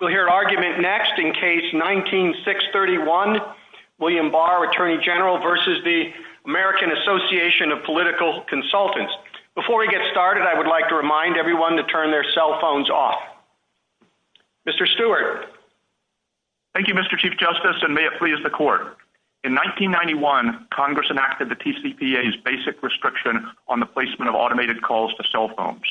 We'll hear argument next in Case 19-631, William Barr, Attorney General v. the American Association of Political Consultants. Before we get started, I would like to remind everyone to turn their cell phones off. Mr. Stewart. Thank you, Mr. Chief Justice, and may it please the Court. In 1991, Congress enacted the TCPA's basic restriction on the placement of automated calls to cell phones.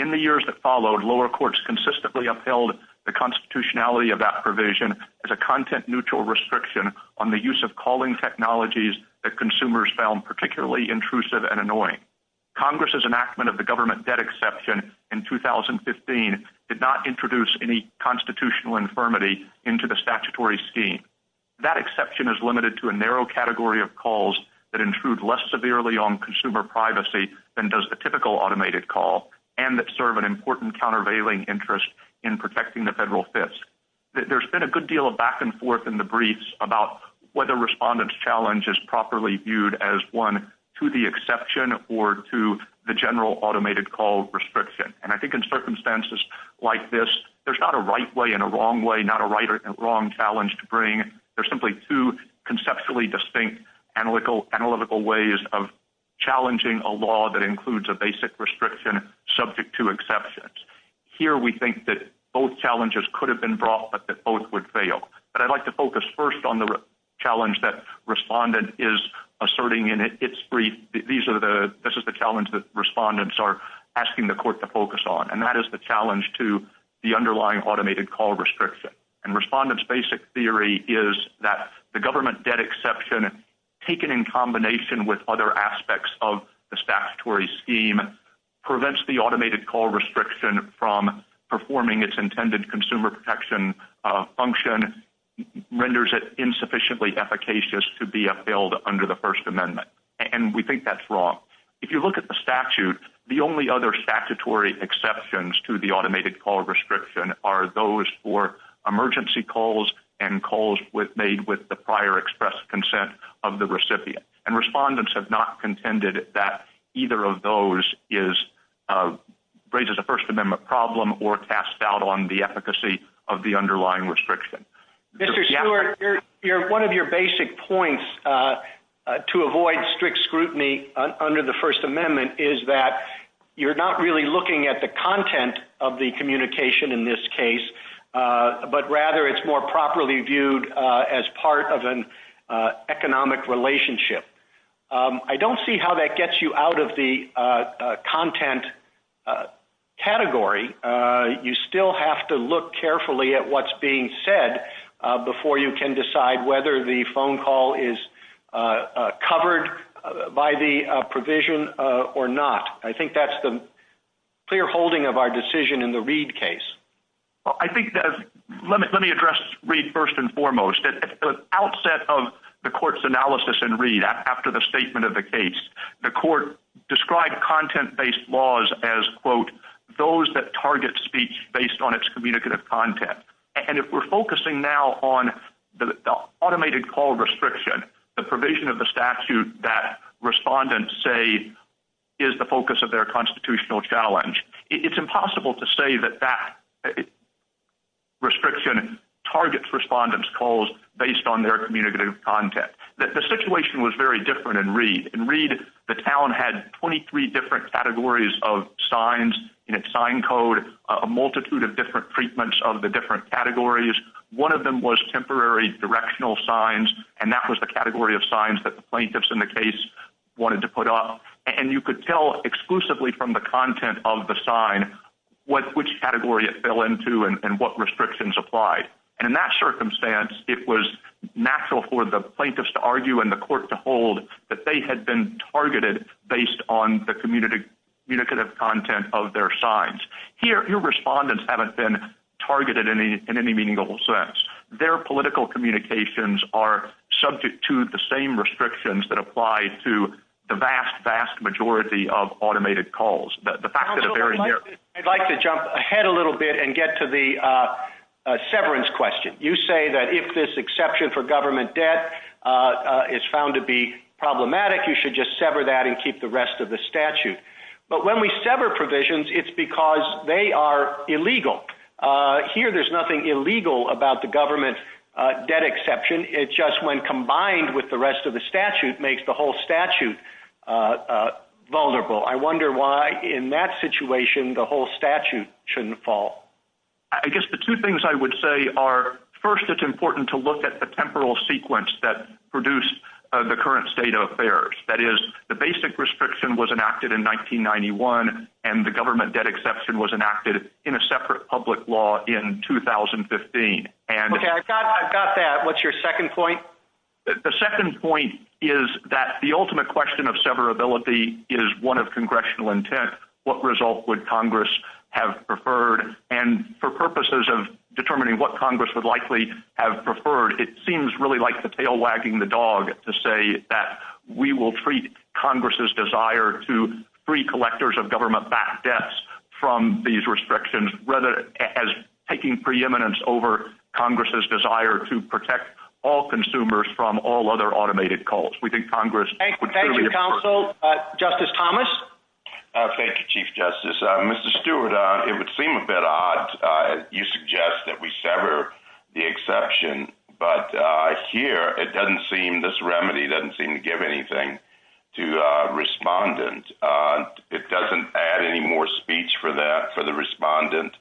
In the years that followed, lower courts consistently upheld the constitutionality of that provision as a content-neutral restriction on the use of calling technologies that consumers found particularly intrusive and annoying. Congress's enactment of the government debt exception in 2015 did not introduce any constitutional infirmity into the statutory scheme. That exception is limited to a narrow category of calls that intrude less severely on consumer automated call and that serve an important countervailing interest in protecting the Federal Fisk. There's been a good deal of back-and-forth in the briefs about whether respondent's challenge is properly viewed as one to the exception or to the general automated call restriction. And I think in circumstances like this, there's not a right way and a wrong way, not a right or wrong challenge to bring. There's simply two conceptually distinct analytical ways of challenging a law that includes a basic restriction subject to exceptions. Here we think that both challenges could have been brought, but that both would fail. But I'd like to focus first on the challenge that respondent is asserting in its brief. This is the challenge that respondents are asking the court to focus on. And that is the challenge to the underlying automated call restriction. And respondent's basic theory is that the government debt exception, taken in combination with other aspects of the statutory scheme, prevents the automated call restriction from performing its intended consumer protection function, renders it insufficiently efficacious to be upheld under the First Amendment. And we think that's wrong. If you look at the statute, the only other statutory exceptions to the automated call restriction are those for emergency calls and calls made with the prior expressed consent of the recipient. And respondents have not contended that either of those is, raises a First Amendment problem or cast doubt on the efficacy of the underlying restriction. Mr. Stewart, one of your basic points to avoid strict scrutiny under the First Amendment is that you're not really looking at the content of the communication in this case, but rather it's more properly viewed as part of an economic relationship. I don't see how that gets you out of the content category. You still have to look carefully at what's being said before you can decide whether the phone call is covered by the provision or not. I think that's the clear holding of our decision in the Reed case. Well, I think that, let me address Reed first and foremost. At the outset of the court's analysis in Reed, after the statement of the case, the court described content-based laws as, quote, those that target speech based on its communicative content. And if we're focusing now on the automated call restriction, the provision of the statute that respondents say is the focus of their constitutional challenge, it's impossible to say that that restriction targets respondents' calls based on their communicative content. The situation was very different in Reed. In Reed, the town had 23 different categories of signs in its sign code, a multitude of different treatments of the different categories. One of them was temporary directional signs, and that was the category of signs that the plaintiffs in the case wanted to put up. And you could tell exclusively from the content of the sign which category it fell into and what restrictions applied. And in that circumstance, it was natural for the plaintiffs to argue and the court to hold that they had been targeted based on the communicative content of their signs. Here, respondents haven't been targeted in any meaningful sense. Their political communications are subject to the same restrictions that apply to the vast, vast majority of automated calls. The fact that a very narrow... I'd like to jump ahead a little bit and get to the severance question. You say that if this exception for government debt is found to be problematic, you should just sever that and keep the rest of the statute. But when we sever provisions, it's because they are illegal. Here there's nothing illegal about the government debt exception. It just, when combined with the rest of the statute, makes the whole statute vulnerable. I wonder why, in that situation, the whole statute shouldn't fall. I guess the two things I would say are, first, it's important to look at the temporal sequence that produced the current state of affairs. That is, the basic restriction was enacted in 1991, and the government debt exception was enacted in a separate public law in 2015. Okay, I've got that. What's your second point? The second point is that the ultimate question of severability is one of congressional intent. What result would Congress have preferred? And for purposes of determining what Congress would likely have preferred, it seems really like the tail wagging the dog to say that we will treat Congress's desire to free collectors of government-backed debts from these restrictions as taking preeminence over Congress's desire to protect all consumers from all other automated cults. We think Congress would clearly prefer that. Thank you, counsel. Justice Thomas? Thank you, Chief Justice. Mr. Stewart, it would seem a bit odd, you suggest, that we sever the exception. But here, it doesn't seem, this remedy doesn't seem to give anything to respondents. It doesn't add any more speech for that, for the respondent,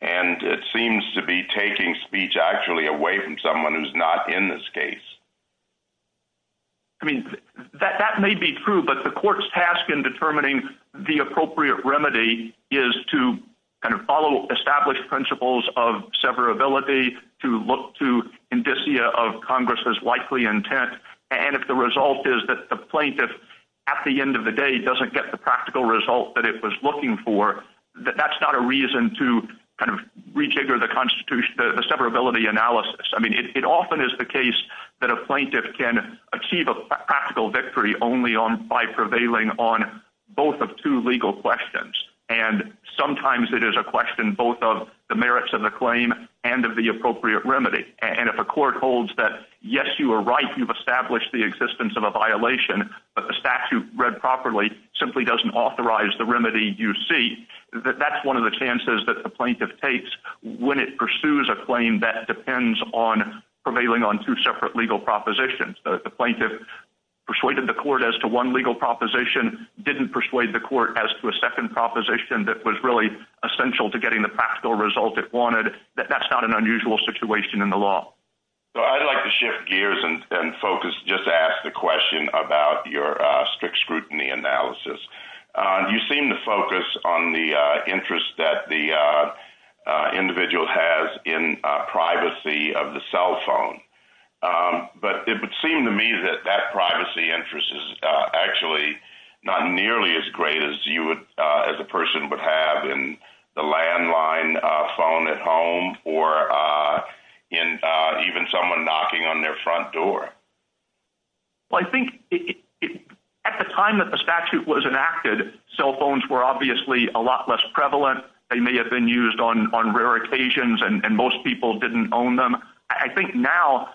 and it seems to be taking speech actually away from someone who's not in this case. I mean, that may be true, but the court's task in determining the appropriate remedy is to kind of follow established principles of severability, to look to indicia of Congress's likely intent. And if the result is that the plaintiff, at the end of the day, doesn't get the practical result that it was looking for, that's not a reason to kind of rejigger the constitution, the severability analysis. I mean, it often is the case that a plaintiff can achieve a practical victory only by prevailing on both of two legal questions. And sometimes it is a question both of the merits of the claim and of the appropriate remedy. And if a court holds that, yes, you are right, you've established the existence of a violation, but the statute read properly simply doesn't authorize the remedy you seek, that's one of the chances that the plaintiff takes when it pursues a claim that depends on prevailing on two separate legal propositions. The plaintiff persuaded the court as to one legal proposition, didn't persuade the court as to a second proposition that was really essential to getting the practical result it wanted. That's not an unusual situation in the law. I'd like to shift gears and focus, just ask the question about your strict scrutiny analysis. You seem to focus on the interest that the individual has in privacy of the cell phone. But it would seem to me that that privacy interest is actually not nearly as great as you as a person would have in the landline phone at home or even someone knocking on their front door. Well, I think at the time that the statute was enacted, cell phones were obviously a lot less prevalent. They may have been used on rare occasions and most people didn't own them. I think now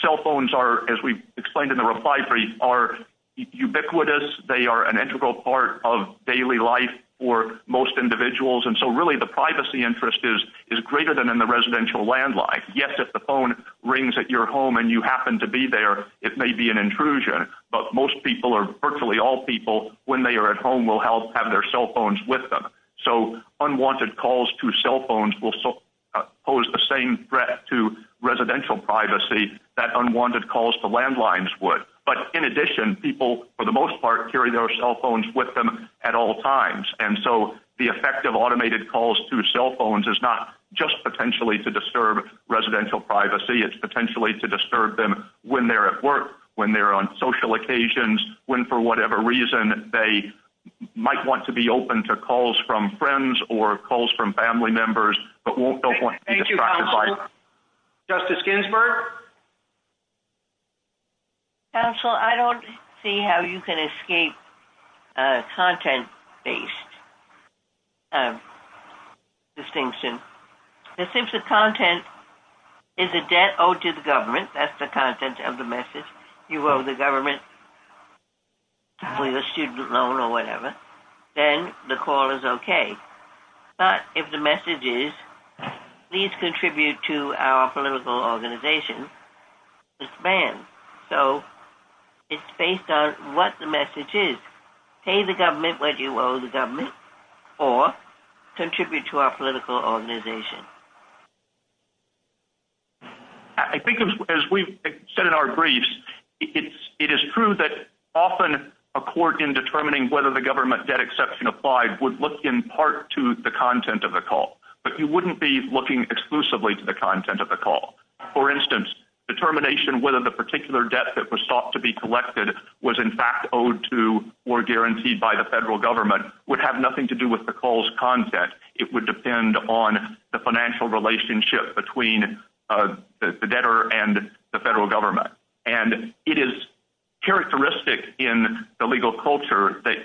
cell phones are, as we explained in the reply brief, are ubiquitous. They are an integral part of daily life for most individuals. And so really the privacy interest is greater than in the residential landline. Yes, if the phone rings at your home and you happen to be there, it may be an intrusion, but most people or virtually all people when they are at home will have their cell phones with them. So unwanted calls to cell phones will pose the same threat to residential privacy that unwanted calls to landlines would. But in addition, people for the most part carry their cell phones with them at all times. And so the effect of automated calls to cell phones is not just potentially to disturb residential privacy, it's potentially to disturb them when they're at work, when they're on social occasions, when for whatever reason they might want to be open to calls from friends or calls from family members, but won't want to be distracted by them. Thank you, counsel. Justice Ginsburg? Counsel, I don't see how you can escape a content-based distinction, and since the content is a debt owed to the government, that's the content of the message, you owe the government a student loan or whatever, then the call is okay. But if the message is, please contribute to our political organization, it's banned. So it's based on what the message is. Pay the government what you owe the government, or contribute to our political organization. I think as we've said in our briefs, it is true that often a court in determining whether the government debt exception applied would look in part to the content of the call, but you wouldn't be looking exclusively to the content of the call. For instance, determination whether the particular debt that was sought to be collected was in fact owed to or guaranteed by the federal government would have nothing to do with the call's content. It would depend on the financial relationship between the debtor and the federal government. And it is characteristic in the legal culture that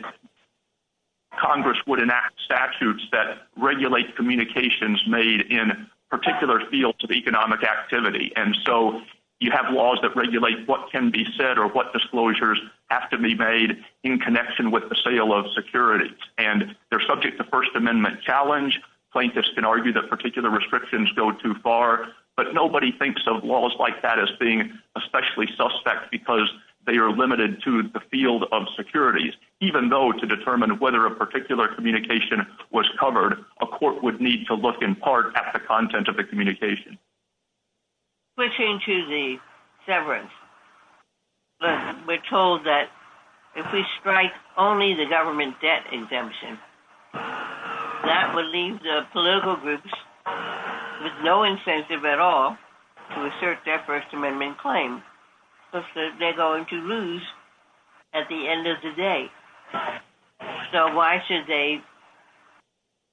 Congress would enact statutes that regulate communications made in particular fields of economic activity. And so you have laws that regulate what can be said or what disclosures have to be made in connection with the sale of securities. And they're subject to First Amendment challenge, plaintiffs can argue that particular restrictions go too far, but nobody thinks of laws like that as being especially suspect because they are limited to the field of securities. Even though to determine whether a particular communication was covered, a court would need to look in part at the content of the communication. Switching to the severance, we're told that if we strike only the government debt exemption, that would leave the political groups with no incentive at all to assert their First Amendment claim because they're going to lose at the end of the day. So why should they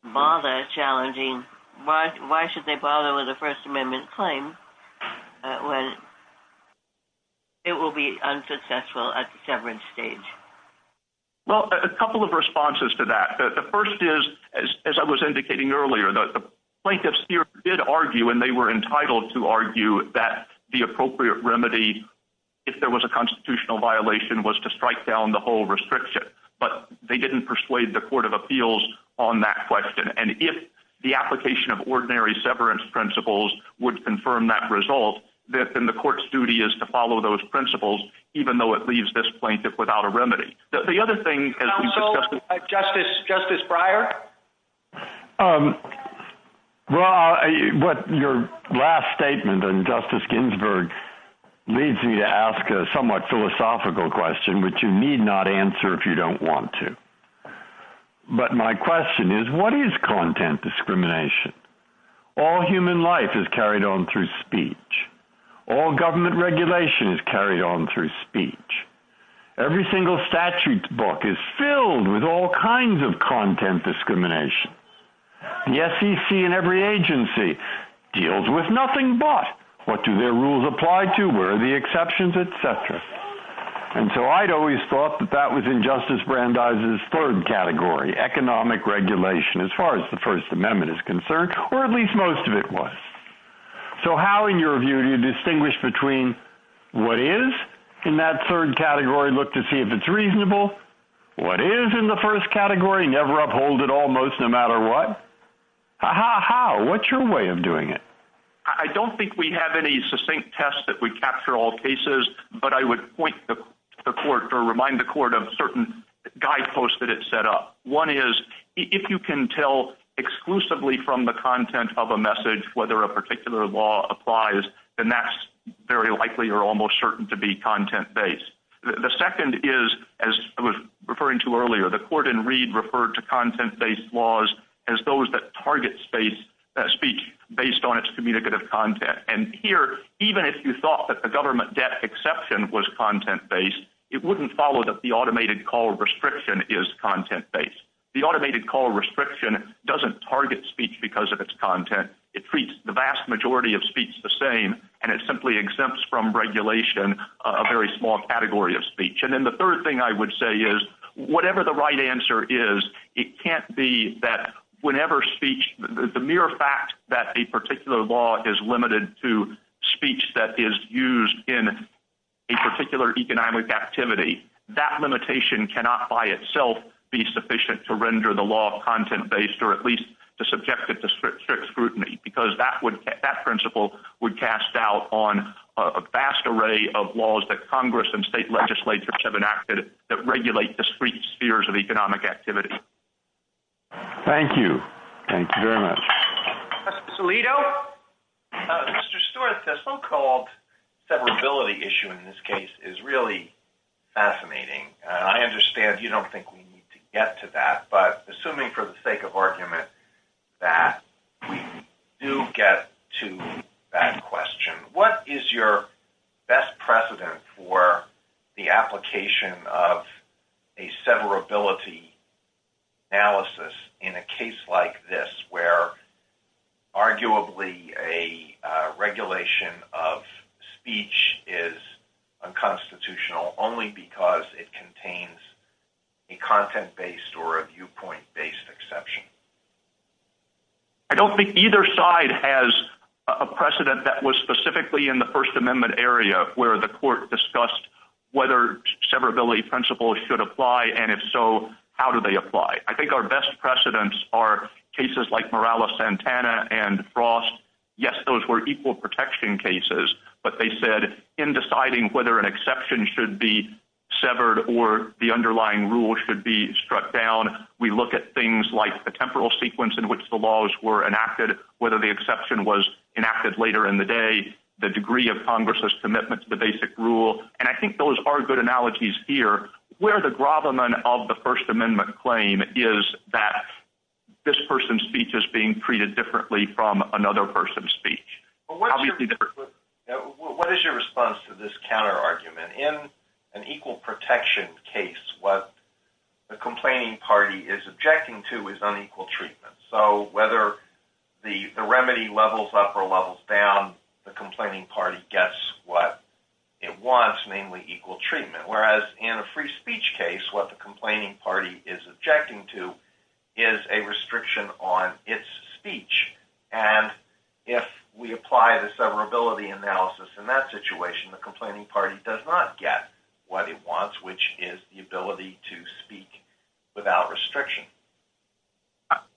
bother challenging, why should they bother with a First Amendment claim when it will be unsuccessful at the severance stage? Well, a couple of responses to that. The first is, as I was indicating earlier, the plaintiffs did argue and they were entitled to argue that the appropriate remedy if there was a constitutional violation was to strike down the whole restriction, but they didn't persuade the Court of Appeals on that question. And if the application of ordinary severance principles would confirm that result, then the court's duty is to follow those principles, even though it leaves this plaintiff without a remedy. The other thing... Also, Justice Breyer? Well, what your last statement and Justice Ginsburg leads me to ask a somewhat philosophical question which you need not answer if you don't want to. But my question is, what is content discrimination? All human life is carried on through speech. All government regulation is carried on through speech. Every single statute book is filled with all kinds of content discrimination. The SEC and every agency deals with nothing but what do their rules apply to, where are the exceptions, etc. And so I'd always thought that that was in Justice Brandeis' third category, economic regulation, as far as the First Amendment is concerned, or at least most of it was. So how, in your view, do you distinguish between what is in that third category? Look to see if it's reasonable. What is in the first category? Never uphold it almost, no matter what. How? What's your way of doing it? I don't think we have any succinct tests that would capture all cases, but I would point to the court or remind the court of certain guideposts that it set up. One is, if you can tell exclusively from the content of a message whether a particular law applies, then that's very likely or almost certain to be content-based. The second is, as I was referring to earlier, the court in Reed referred to content-based laws as those that target speech based on its communicative content. And here, even if you thought that the government debt exception was content-based, it wouldn't follow that the automated call restriction is content-based. The automated call restriction doesn't target speech because of its content. It treats the vast majority of speech the same, and it simply exempts from regulation a very small category of speech. And then the third thing I would say is, whatever the right answer is, it can't be that whenever speech—the mere fact that a particular law is limited to speech that is used in a particular economic activity, that limitation cannot by itself be sufficient to render the law content-based or at least to subject it to strict scrutiny, because that principle would cast doubt on a vast array of laws that Congress and state legislatures have enacted that regulate discrete spheres of economic activity. Thank you. Thank you very much. Mr. Solito? Mr. Stewart, the so-called severability issue in this case is really fascinating. I understand you don't think we need to get to that, but assuming for the sake of argument that we do get to that question, what is your best precedent for the application of a severability analysis in a case like this, where arguably a regulation of speech is unconstitutional only because it contains a content-based or a viewpoint-based exception? I don't think either side has a precedent that was specifically in the First Amendment area, where the court discussed whether severability principles should apply, and if so, how do they apply. I think our best precedents are cases like Morales-Santana and Frost. Yes, those were equal protection cases, but they said in deciding whether an exception should be severed or the underlying rule should be struck down, we look at things like the temporal sequence in which the laws were enacted, whether the exception was enacted later in the day, the degree of Congress's commitment to the basic rule. And I think those are good analogies here, where the grovelment of the First Amendment claim is that this person's speech is being treated differently from another person's speech. What is your response to this counter-argument? In an equal protection case, what the complaining party is objecting to is unequal treatment. So whether the remedy levels up or levels down, the complaining party gets what it wants, mainly equal treatment. Whereas in a free speech case, what the complaining party is objecting to is a restriction on its speech. And if we apply the severability analysis in that situation, the complaining party does not get what it wants, which is the ability to speak without restriction.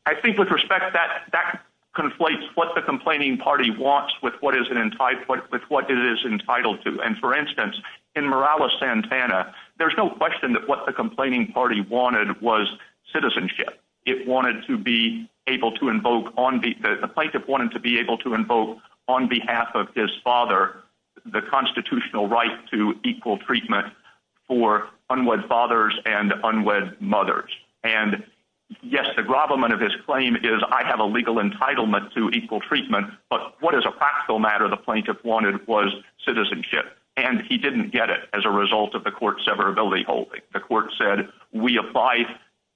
I think with respect, that conflates what the complaining party wants with what it is entitled to. And for instance, in Morales-Santana, there's no question that what the complaining party wanted was citizenship. It wanted to be able to invoke, the plaintiff wanted to be able to invoke on behalf of his father the constitutional right to equal treatment for unwed fathers and unwed mothers. And yes, the grovelment of his claim is, I have a legal entitlement to equal treatment, but what is a practical matter the plaintiff wanted was citizenship. And he didn't get it as a result of the court's severability holding. The court said, we apply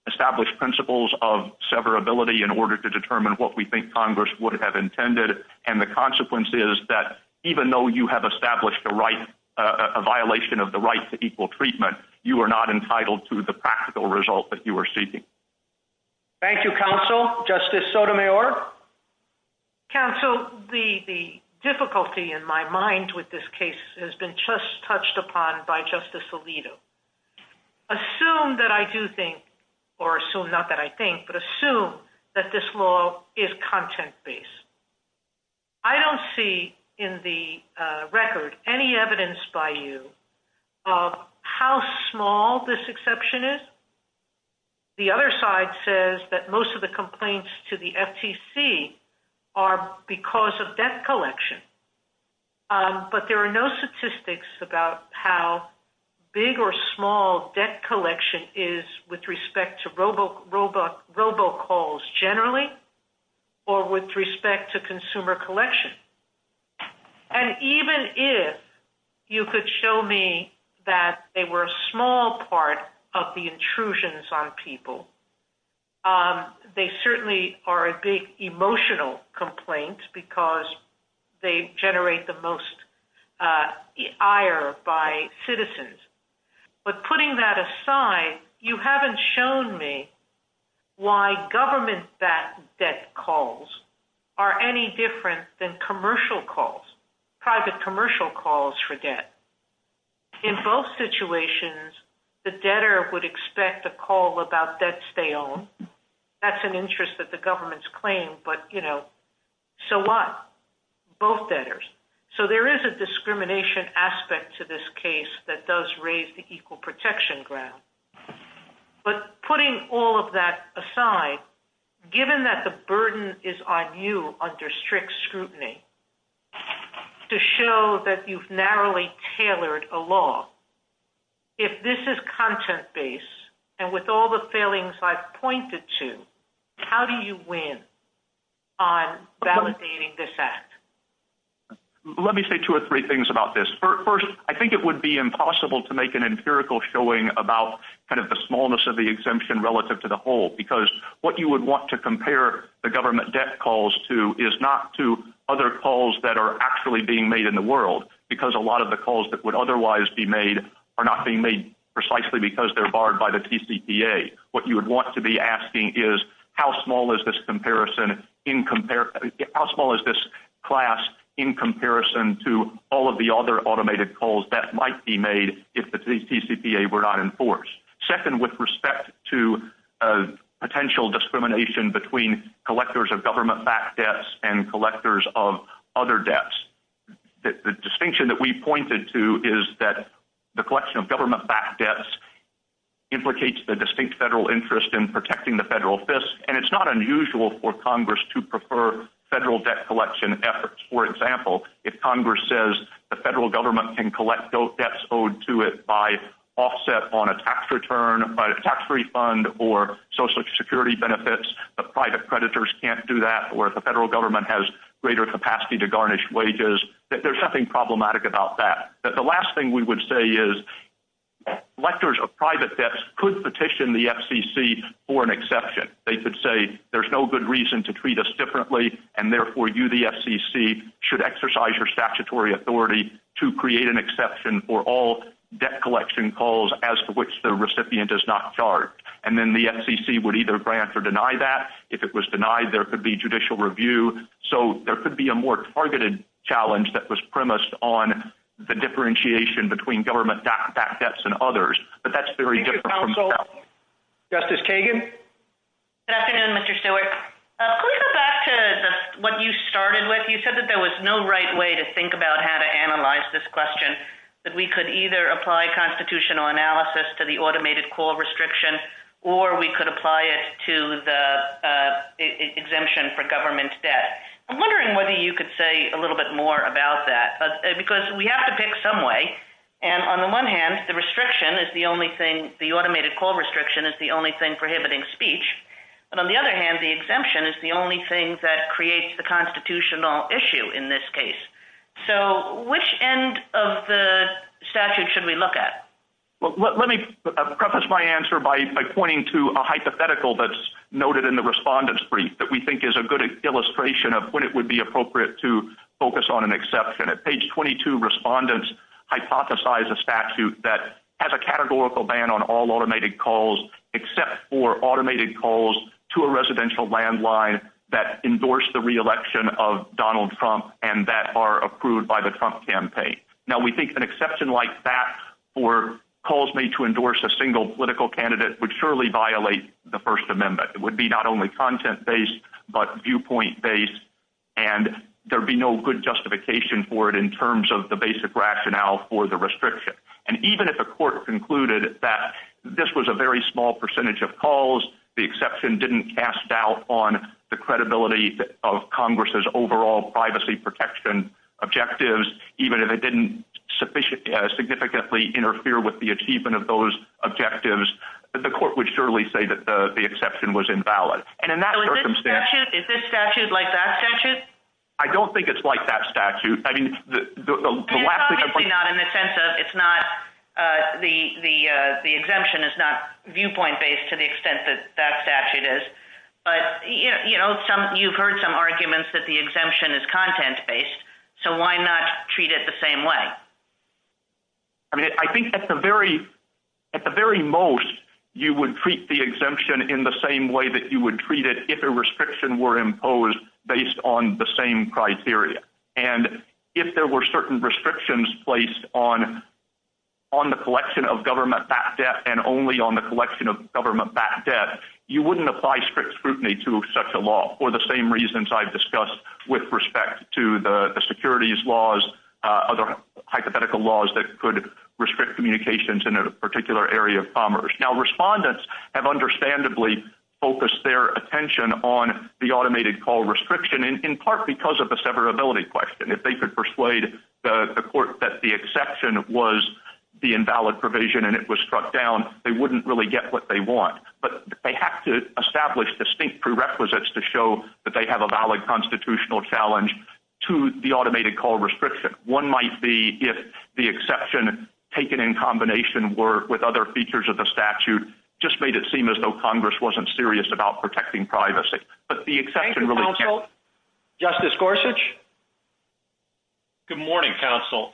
established principles of severability in order to determine what we think Congress would have intended. And the consequence is that even though you have established a violation of the right to equal treatment, you are not entitled to the practical result that you are seeking. Thank you, Counsel. Justice Sotomayor? Counsel, the difficulty in my mind with this case has been just touched upon by Justice Alito. Assume that I do think, or assume not that I think, but assume that this law is content based. I don't see in the record any evidence by you of how small this exception is. The other side says that most of the complaints to the FTC are because of debt collection. But there are no statistics about how big or small debt collection is with respect to consumer collection. And even if you could show me that they were a small part of the intrusions on people, they certainly are a big emotional complaint because they generate the most ire by citizens. But putting that aside, you haven't shown me why government debt calls are any different than commercial calls, private commercial calls for debt. In both situations, the debtor would expect a call about debts they own. That's an interest that the government's claimed, but you know, so what? Both debtors. So there is a discrimination aspect to this case that does raise the equal protection ground. But putting all of that aside, given that the burden is on you under strict scrutiny to show that you've narrowly tailored a law, if this is content based and with all the failings I've pointed to, how do you win on validating this act? Let me say two or three things about this. First, I think it would be impossible to make an empirical showing about kind of the smallness of the exemption relative to the whole. Because what you would want to compare the government debt calls to is not to other calls that are actually being made in the world. Because a lot of the calls that would otherwise be made are not being made precisely because they're borrowed by the TCPA. What you would want to be asking is how small is this class in comparison to all of the other automated calls that might be made if the TCPA were not enforced? Second, with respect to potential discrimination between collectors of government-backed debts and collectors of other debts, the distinction that we pointed to is that the collection of government-backed debts implicates the distinct federal interest in protecting the federal fisc. And it's not unusual for Congress to prefer federal debt collection efforts. For example, if Congress says the federal government can collect debts owed to it by offset on a tax return, by a tax refund, or Social Security benefits, the private creditors can't do that, or if the federal government has greater capacity to garnish wages, there's nothing problematic about that. The last thing we would say is collectors of private debts could petition the FCC for an exception. They could say there's no good reason to treat us differently, and therefore you, the FCC, should exercise your statutory authority to create an exception for all debt collection calls as to which the recipient is not charged. And then the FCC would either grant or deny that. If it was denied, there could be judicial review. So there could be a more targeted challenge that was premised on the differentiation between government-backed debts and others. But that's very different from now. Justice Kagan? Good afternoon, Mr. Stewart. Could we go back to what you started with? You said that there was no right way to think about how to analyze this question, that we could either apply constitutional analysis to the automated call restriction, or we could I'm wondering whether you could say a little bit more about that, because we have to pick some way. And on the one hand, the restriction is the only thing, the automated call restriction is the only thing prohibiting speech. But on the other hand, the exemption is the only thing that creates the constitutional issue in this case. So which end of the statute should we look at? Well, let me preface my answer by pointing to a hypothetical that's noted in the respondent's brief that we think is a good illustration of when it would be appropriate to focus on an exception. At page 22, respondents hypothesize a statute that has a categorical ban on all automated calls except for automated calls to a residential landline that endorse the re-election of Donald Trump and that are approved by the Trump campaign. Now, we think an exception like that for calls made to endorse a single political candidate would surely violate the First Amendment. It would be not only content-based, but viewpoint-based, and there would be no good justification for it in terms of the basic rationale for the restriction. And even if a court concluded that this was a very small percentage of calls, the exception didn't cast doubt on the credibility of Congress's overall privacy protection objectives, even if it didn't significantly interfere with the achievement of those objectives, the court would surely say that the exception was invalid. So is this statute like that statute? I don't think it's like that statute. It's probably not in the sense of the exemption is not viewpoint-based to the extent that that statute is, but you've heard some arguments that the exemption is content-based, so why not treat it the same way? I mean, I think at the very most, you would treat the exemption in the same way that you would treat it if a restriction were imposed based on the same criteria. And if there were certain restrictions placed on the collection of government-backed debt and only on the collection of government-backed debt, you wouldn't apply strict scrutiny to such a law for the same reasons I've discussed with respect to the securities laws, other hypothetical laws that could restrict communications in a particular area of commerce. Now, respondents have understandably focused their attention on the automated call restriction in part because of the severability question. If they could persuade the court that the exception was the invalid provision and it was struck down, they wouldn't really get what they want. But they have to establish distinct prerequisites to show that they have a valid constitutional challenge to the automated call restriction. One might be if the exception taken in combination with other features of the statute just made it seem as though Congress wasn't serious about protecting privacy, but the exception really can't. Thank you, counsel. Justice Gorsuch? Good morning, counsel.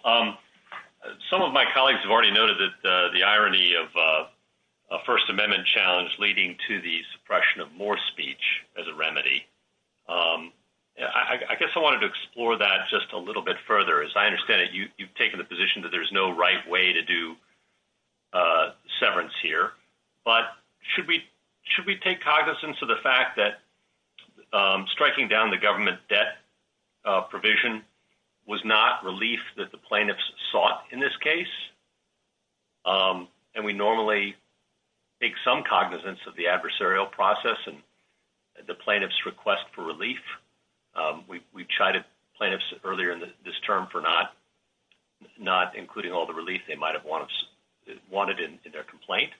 Some of my colleagues have already noted that the irony of a First Amendment challenge leading to the suppression of more speech as a remedy, I guess I wanted to explore that just a little bit further. As I understand it, you've taken the position that there's no right way to do severance here. But should we take cognizance of the fact that striking down the government debt provision was not relief that the plaintiffs sought in this case? And we normally take some cognizance of the adversarial process and the plaintiff's request for relief. We chided plaintiffs earlier in this term for not including all the relief they might have wanted in their complaint.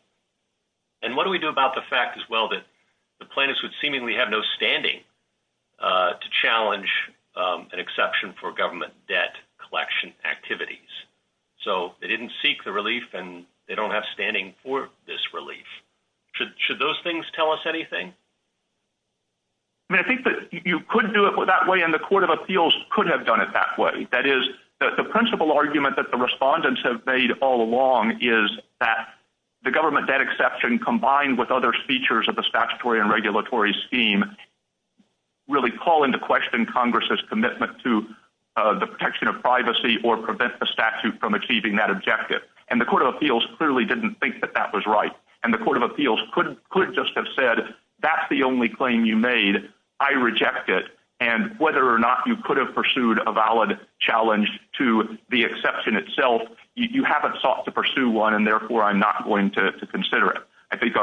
And what do we do about the fact as well that the plaintiffs would seemingly have no standing to challenge an exception for government debt collection activities? So they didn't seek the relief and they don't have standing for this relief. Should those things tell us anything? I mean, I think that you could do it that way and the Court of Appeals could have done it that way. That is, the principal argument that the respondents have made all along is that the government debt exception combined with other features of the statutory and regulatory scheme really call into question Congress's commitment to the protection of privacy or prevent the statute from achieving that objective. And the Court of Appeals clearly didn't think that that was right. And the Court of Appeals could just have said, that's the only claim you made. I reject it. And whether or not you could have pursued a valid challenge to the exception itself, you haven't sought to pursue one and therefore I'm not going to consider it. I think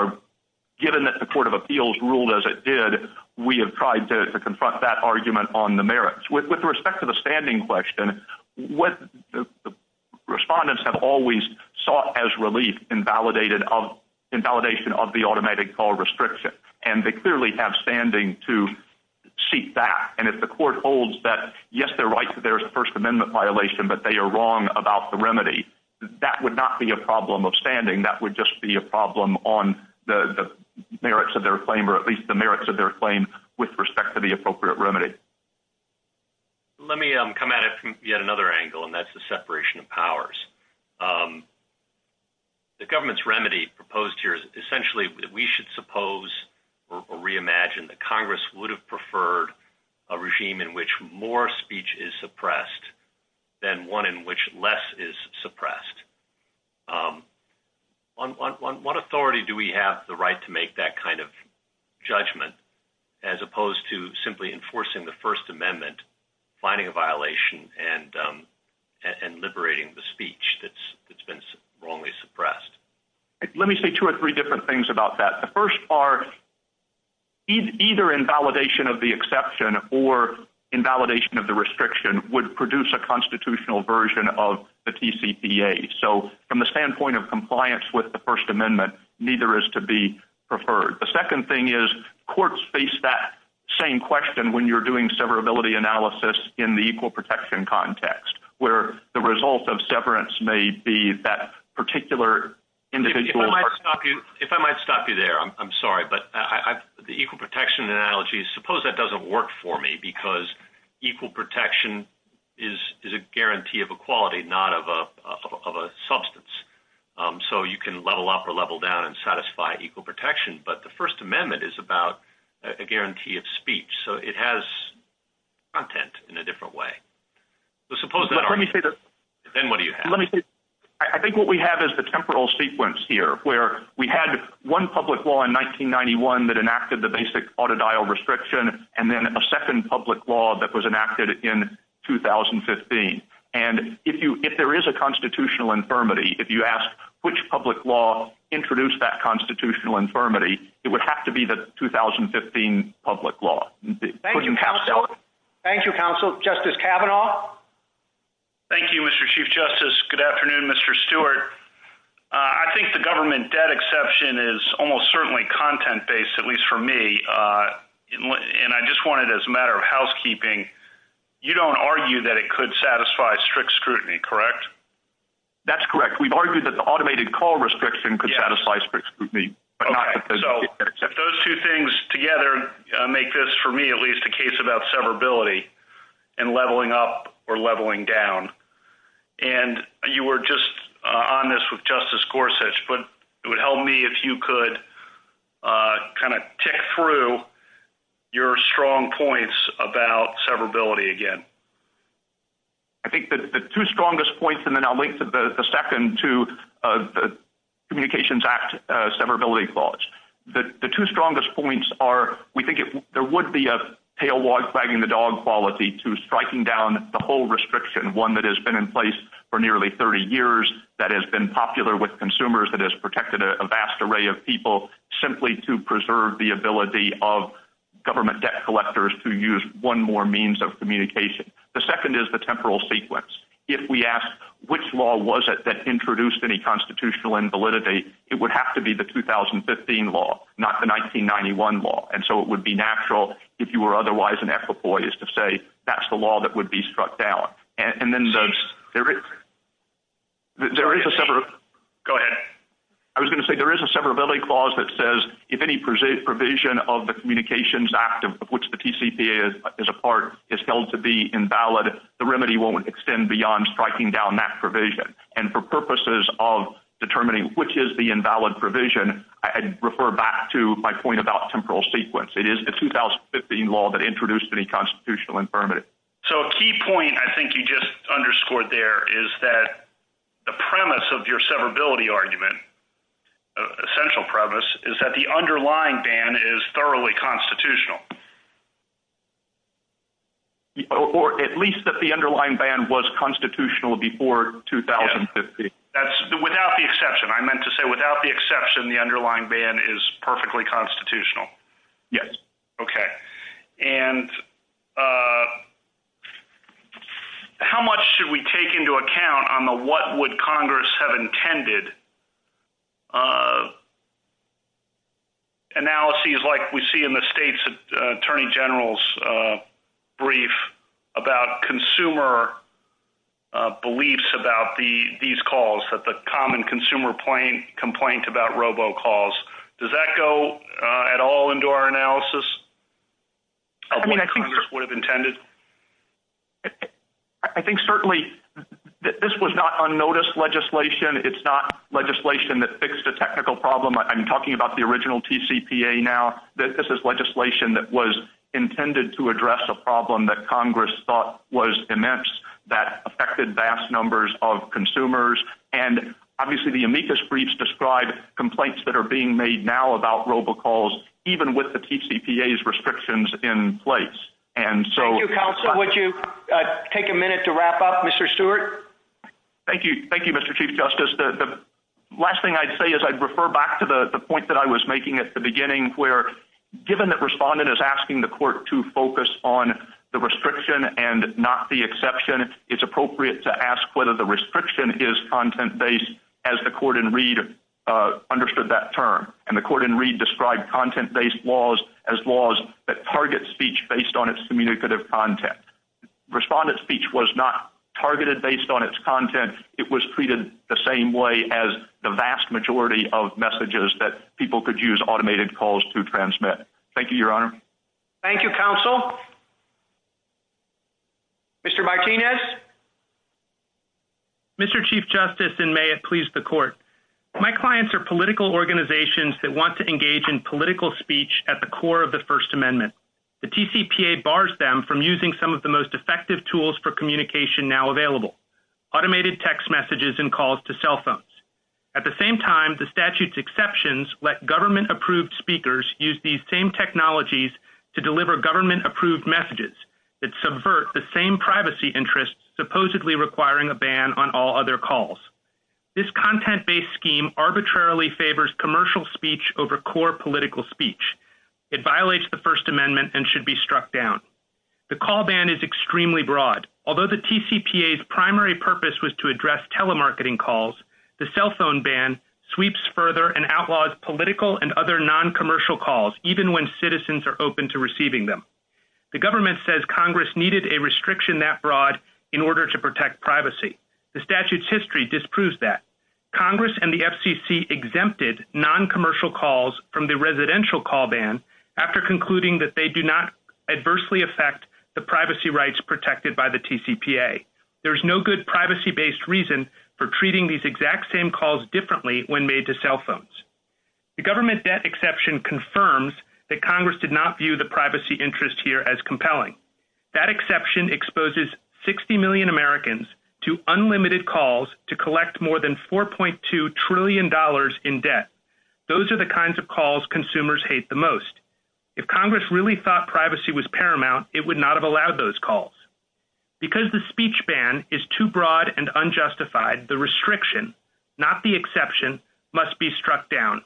given that the Court of Appeals ruled as it did, we have tried to confront that argument on the merits. With respect to the standing question, respondents have always sought as relief in validation of the automatic call restriction. And they clearly have standing to seek that. And if the Court holds that, yes, they're right that there's a First Amendment violation, but they are wrong about the remedy, that would not be a problem of standing. That would just be a problem on the merits of their claim or at least the merits of their claim with respect to the appropriate remedy. Let me come at it from yet another angle, and that's the separation of powers. The government's remedy proposed here is essentially that we should suppose or reimagine that less is suppressed. On what authority do we have the right to make that kind of judgment as opposed to simply enforcing the First Amendment, finding a violation, and liberating the speech that's been wrongly suppressed? Let me say two or three different things about that. The first part, either in validation of the exception or in validation of the restriction would produce a constitutional version of the TCPA. So from the standpoint of compliance with the First Amendment, neither is to be preferred. The second thing is courts face that same question when you're doing severability analysis in the equal protection context, where the result of severance may be that particular individual. If I might stop you there, I'm sorry, but the equal protection analogy, suppose that equal protection is a guarantee of equality, not of a substance. So you can level up or level down and satisfy equal protection, but the First Amendment is about a guarantee of speech. So it has content in a different way. Then what do you have? I think what we have is the temporal sequence here, where we had one public law in 1991 that enacted the basic autodial restriction, and then a second public law that was enacted in 2015. And if there is a constitutional infirmity, if you ask which public law introduced that constitutional infirmity, it would have to be the 2015 public law. Thank you, counsel. Justice Kavanaugh? Thank you, Mr. Chief Justice. Good afternoon, Mr. Stewart. I think the government debt exception is almost certainly content-based, at least for me, and I just wanted, as a matter of housekeeping, you don't argue that it could satisfy strict scrutiny, correct? That's correct. We've argued that the automated call restriction could satisfy strict scrutiny. Okay. So if those two things together make this, for me at least, a case about severability and leveling up or leveling down, and you were just on this with Justice Gorsuch, but it would help me if you could kind of tick through your strong points about severability again. I think the two strongest points, and then I'll link to the second, to the Communications Act severability clause. The two strongest points are we think there would be a tail wag wagging the dog quality to striking down the whole restriction, one that has been in place for nearly 30 years that has been popular with consumers, that has protected a vast array of people simply to preserve the ability of government debt collectors to use one more means of communication. The second is the temporal sequence. If we ask which law was it that introduced any constitutional invalidity, it would have to be the 2015 law, not the 1991 law. And so it would be natural if you were otherwise an ex-employee to say that's the law that would be struck down. Go ahead. I was going to say there is a severability clause that says if any provision of the Communications Act of which the TCPA is a part is held to be invalid, the remedy won't extend beyond striking down that provision. And for purposes of determining which is the invalid provision, I refer back to my point about temporal sequence. It is the 2015 law that introduced any constitutional invalidity. So a key point I think you just underscored there is that the premise of your severability argument, essential premise, is that the underlying ban is thoroughly constitutional. Or at least that the underlying ban was constitutional before 2015. That's without the exception. I meant to say without the exception, the underlying ban is perfectly constitutional. Yes. Okay. And how much should we take into account on the what would Congress have intended analyses like we see in the State's Attorney General's brief about consumer beliefs about these calls, that the common consumer complaint about robo calls? Does that go at all into our analysis of what Congress would have intended? I think certainly this was not unnoticed legislation. It's not legislation that fixed a technical problem. I'm talking about the original TCPA now. This is legislation that was intended to address a problem that Congress thought was immense that affected vast numbers of consumers. And obviously the amicus briefs describe complaints that are being made now about robo calls, even with the TCPA's restrictions in place. Thank you, Counselor. Would you take a minute to wrap up? Mr. Stewart? Thank you, Mr. Chief Justice. The last thing I'd say is I'd refer back to the point that I was making at the beginning where given the respondent is asking the court to focus on the restriction and not the exception, it's appropriate to ask whether the restriction is content-based, as the court in Reed understood that term. And the court in Reed described content-based laws as laws that target speech based on its communicative content. Respondent speech was not targeted based on its content. It was treated the same way as the vast majority of messages that people could use automated calls to transmit. Thank you, Your Honor. Thank you, Counsel. Counsel? Mr. Martinez? Mr. Chief Justice, and may it please the court, my clients are political organizations that want to engage in political speech at the core of the First Amendment. The TCPA bars them from using some of the most effective tools for communication now available, automated text messages and calls to cell phones. At the same time, the statute's exceptions let government-approved speakers use these same technologies to deliver government-approved messages that subvert the same privacy interests supposedly requiring a ban on all other calls. This content-based scheme arbitrarily favors commercial speech over core political speech. It violates the First Amendment and should be struck down. The call ban is extremely broad. Although the TCPA's primary purpose was to address telemarketing calls, the cell phone ban sweeps further and outlaws political and other noncommercial calls, even when citizens are open to receiving them. The government says Congress needed a restriction that broad in order to protect privacy. The statute's history disproves that. Congress and the FCC exempted noncommercial calls from the residential call ban after concluding that they do not adversely affect the privacy rights protected by the TCPA. There is no good privacy-based reason for treating these exact same calls differently when made to cell phones. The government debt exception confirms that Congress did not view the privacy interest here as compelling. That exception exposes 60 million Americans to unlimited calls to collect more than $4.2 trillion in debt. Those are the kinds of calls consumers hate the most. If Congress really thought privacy was paramount, it would not have allowed those calls. Because the speech ban is too broad and unjustified, the restriction, not the exception, must be struck down.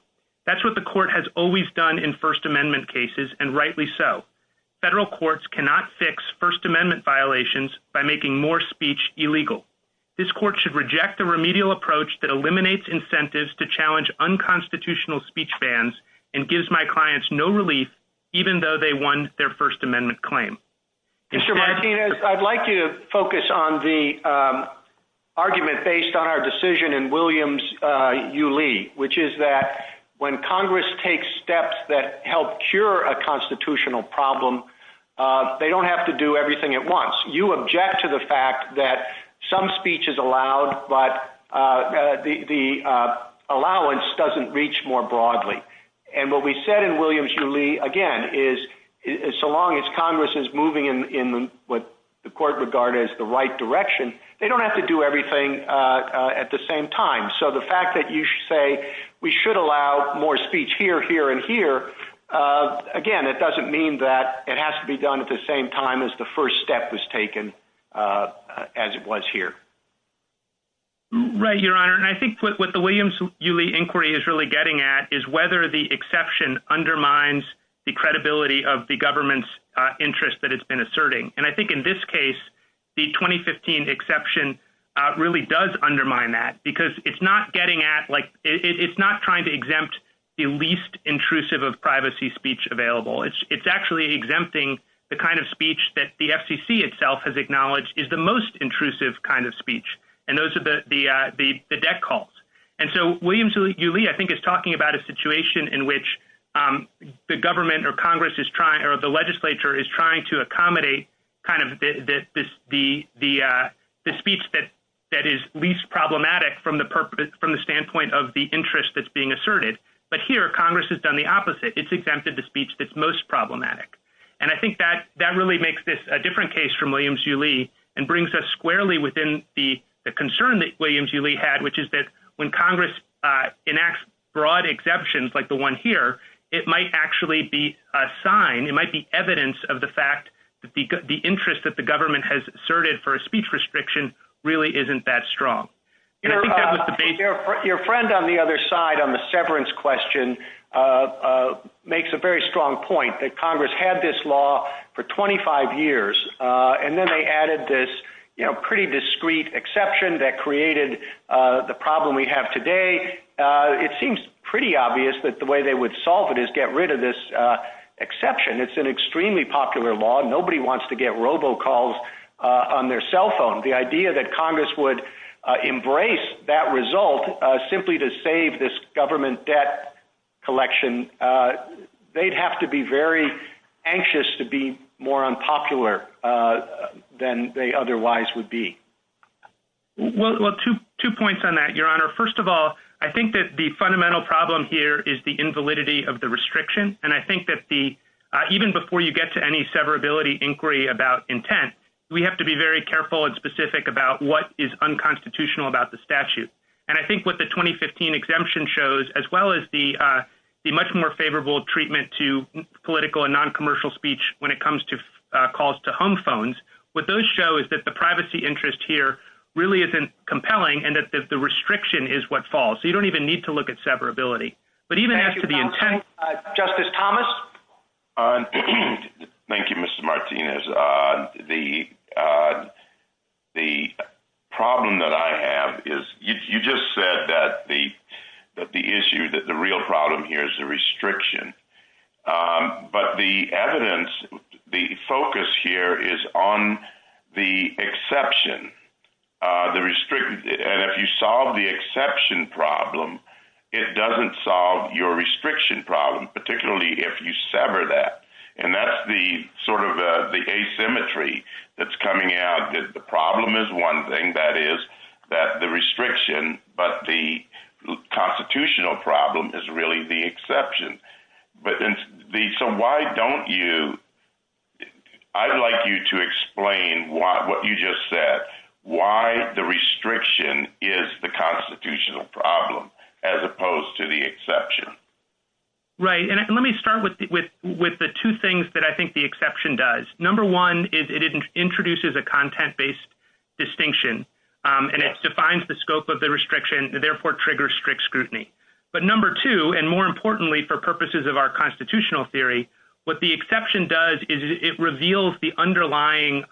That's what the court has always done in First Amendment cases, and rightly so. Federal courts cannot fix First Amendment violations by making more speech illegal. This court should reject the remedial approach that eliminates incentives to challenge unconstitutional speech bans and gives my clients no relief even though they won their First Amendment claim. Mr. Martinez, I'd like to focus on the argument based on our decision in Williams v. Lee, which is that when Congress takes steps that help cure a constitutional problem, they don't have to do everything at once. You object to the fact that some speech is allowed, but the allowance doesn't reach more broadly. What we said in Williams v. Lee, again, is so long as Congress is moving in what the court regarded as the right direction, they don't have to do everything at the same time. The fact that you say we should allow more speech here, here, and here, again, it doesn't mean that it has to be done at the same time as the first step was taken as it was here. Right, Your Honor. I think what the Williams v. Lee inquiry is really getting at is whether the exception undermines the credibility of the government's interest that it's been asserting. I think in this case, the 2015 exception really does undermine that because it's not trying to exempt the least intrusive of privacy speech available. It's actually exempting the kind of speech that the FCC itself has acknowledged is the most intrusive kind of speech. And those are the debt calls. And so Williams v. Lee, I think, is talking about a situation in which the government or Congress is trying or the legislature is trying to accommodate kind of the speech that is least problematic from the standpoint of the interest that's being asserted. But here, Congress has done the opposite. It's exempted the speech that's most problematic. And I think that really makes this a different case from Williams v. Lee and brings us squarely within the concern that Williams v. Lee had, which is that when Congress enacts broad exemptions like the one here, it might actually be a sign, it might be evidence of the fact that the interest that the government has asserted for a speech restriction really isn't that strong. Your friend on the other side on the severance question makes a very strong point that Congress had this law for 25 years, and then they added this pretty discreet exception that created the problem we have today. It seems pretty obvious that the way they would solve it is get rid of this exception. It's an extremely popular law. Nobody wants to get robocalls on their cell phone. The idea that Congress would embrace that result simply to save this government debt collection, they'd have to be very anxious to be more unpopular than they otherwise would be. Well, two points on that, Your Honor. First of all, I think that the fundamental problem here is the invalidity of the restriction. And I think that even before you get to any severability inquiry about intent, we have to be very careful and specific about what is unconstitutional about the statute. And I think what the 2015 exemption shows, as well as the much more favorable treatment to political and noncommercial speech when it comes to calls to home phones, what those show is that the privacy interest here really isn't compelling and that the restriction is what falls. You don't even need to look at severability. Justice Thomas? Thank you, Mr. Martinez. The problem that I have is you just said that the issue, that the real problem here is the restriction. But the evidence, the focus here is on the exception. And if you solve the exception problem, it doesn't solve your restriction problem, particularly if you sever that. And that's the sort of the asymmetry that's coming out. The problem is one thing, that is, that the restriction, but the constitutional problem is really the exception. So why don't you, I'd like you to explain what you just said, why the restriction is the constitutional problem as opposed to the exception. Right. And let me start with the two things that I think the exception does. Number one is it introduces a content-based distinction, and it defines the scope of the restriction, and therefore triggers strict scrutiny. But number two, and more importantly for purposes of our constitutional theory, what the exception does is it reveals the underlying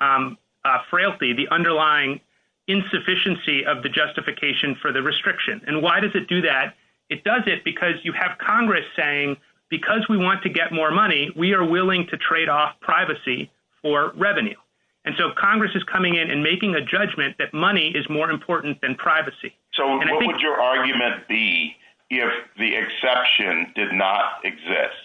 frailty, the underlying insufficiency of the justification for the restriction. And why does it do that? It does it because you have Congress saying, because we want to get more money, we are willing to trade off privacy for revenue. And so Congress is coming in and making a judgment that money is more important than privacy. So what would your argument be if the exception did not exist?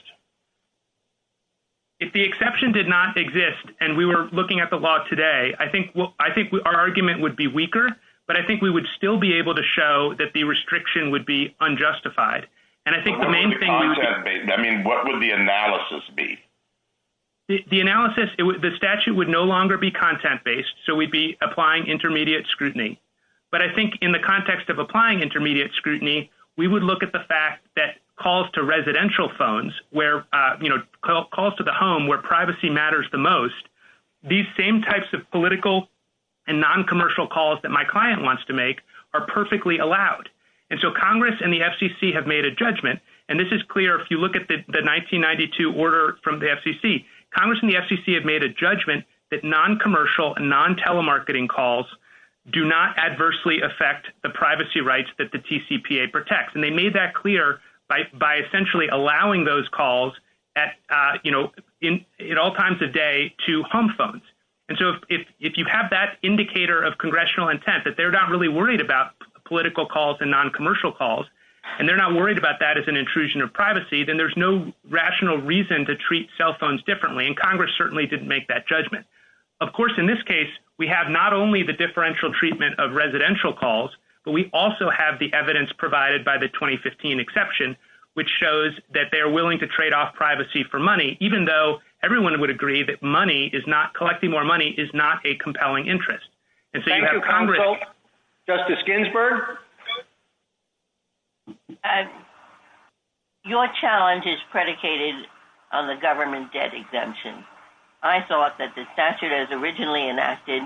If the exception did not exist, and we were looking at the law today, I think our argument would be weaker, but I think we would still be able to show that the restriction would be unjustified. And I think the main thing would be. I mean, what would the analysis be? The analysis, the statute would no longer be content-based, so we'd be applying intermediate scrutiny. But I think in the context of applying intermediate scrutiny, we would look at the fact that calls to residential phones where, you know, calls to the home where privacy matters the most, these same types of political and noncommercial calls that my client wants to make are perfectly allowed. And so Congress and the FCC have made a judgment. And this is clear if you look at the 1992 order from the FCC. Congress and the FCC have made a judgment that noncommercial and non-telemarketing calls do not adversely affect the privacy rights that the TCPA protects. And they made that clear by essentially allowing those calls at all times of day to home phones. And so if you have that indicator of congressional intent, that they're not really worried about political calls and noncommercial calls, and they're not worried about that as an intrusion of privacy, then there's no rational reason to treat cell phones differently. And Congress certainly didn't make that judgment. Of course, in this case, we have not only the differential treatment of residential calls, but we also have the evidence provided by the 2015 exception, which shows that they're willing to trade off privacy for money, even though everyone would agree that collecting more money is not a compelling interest. And so you have Congress. Justice Ginsburg? Your challenge is predicated on the government debt exemption. I thought that the statute as originally enacted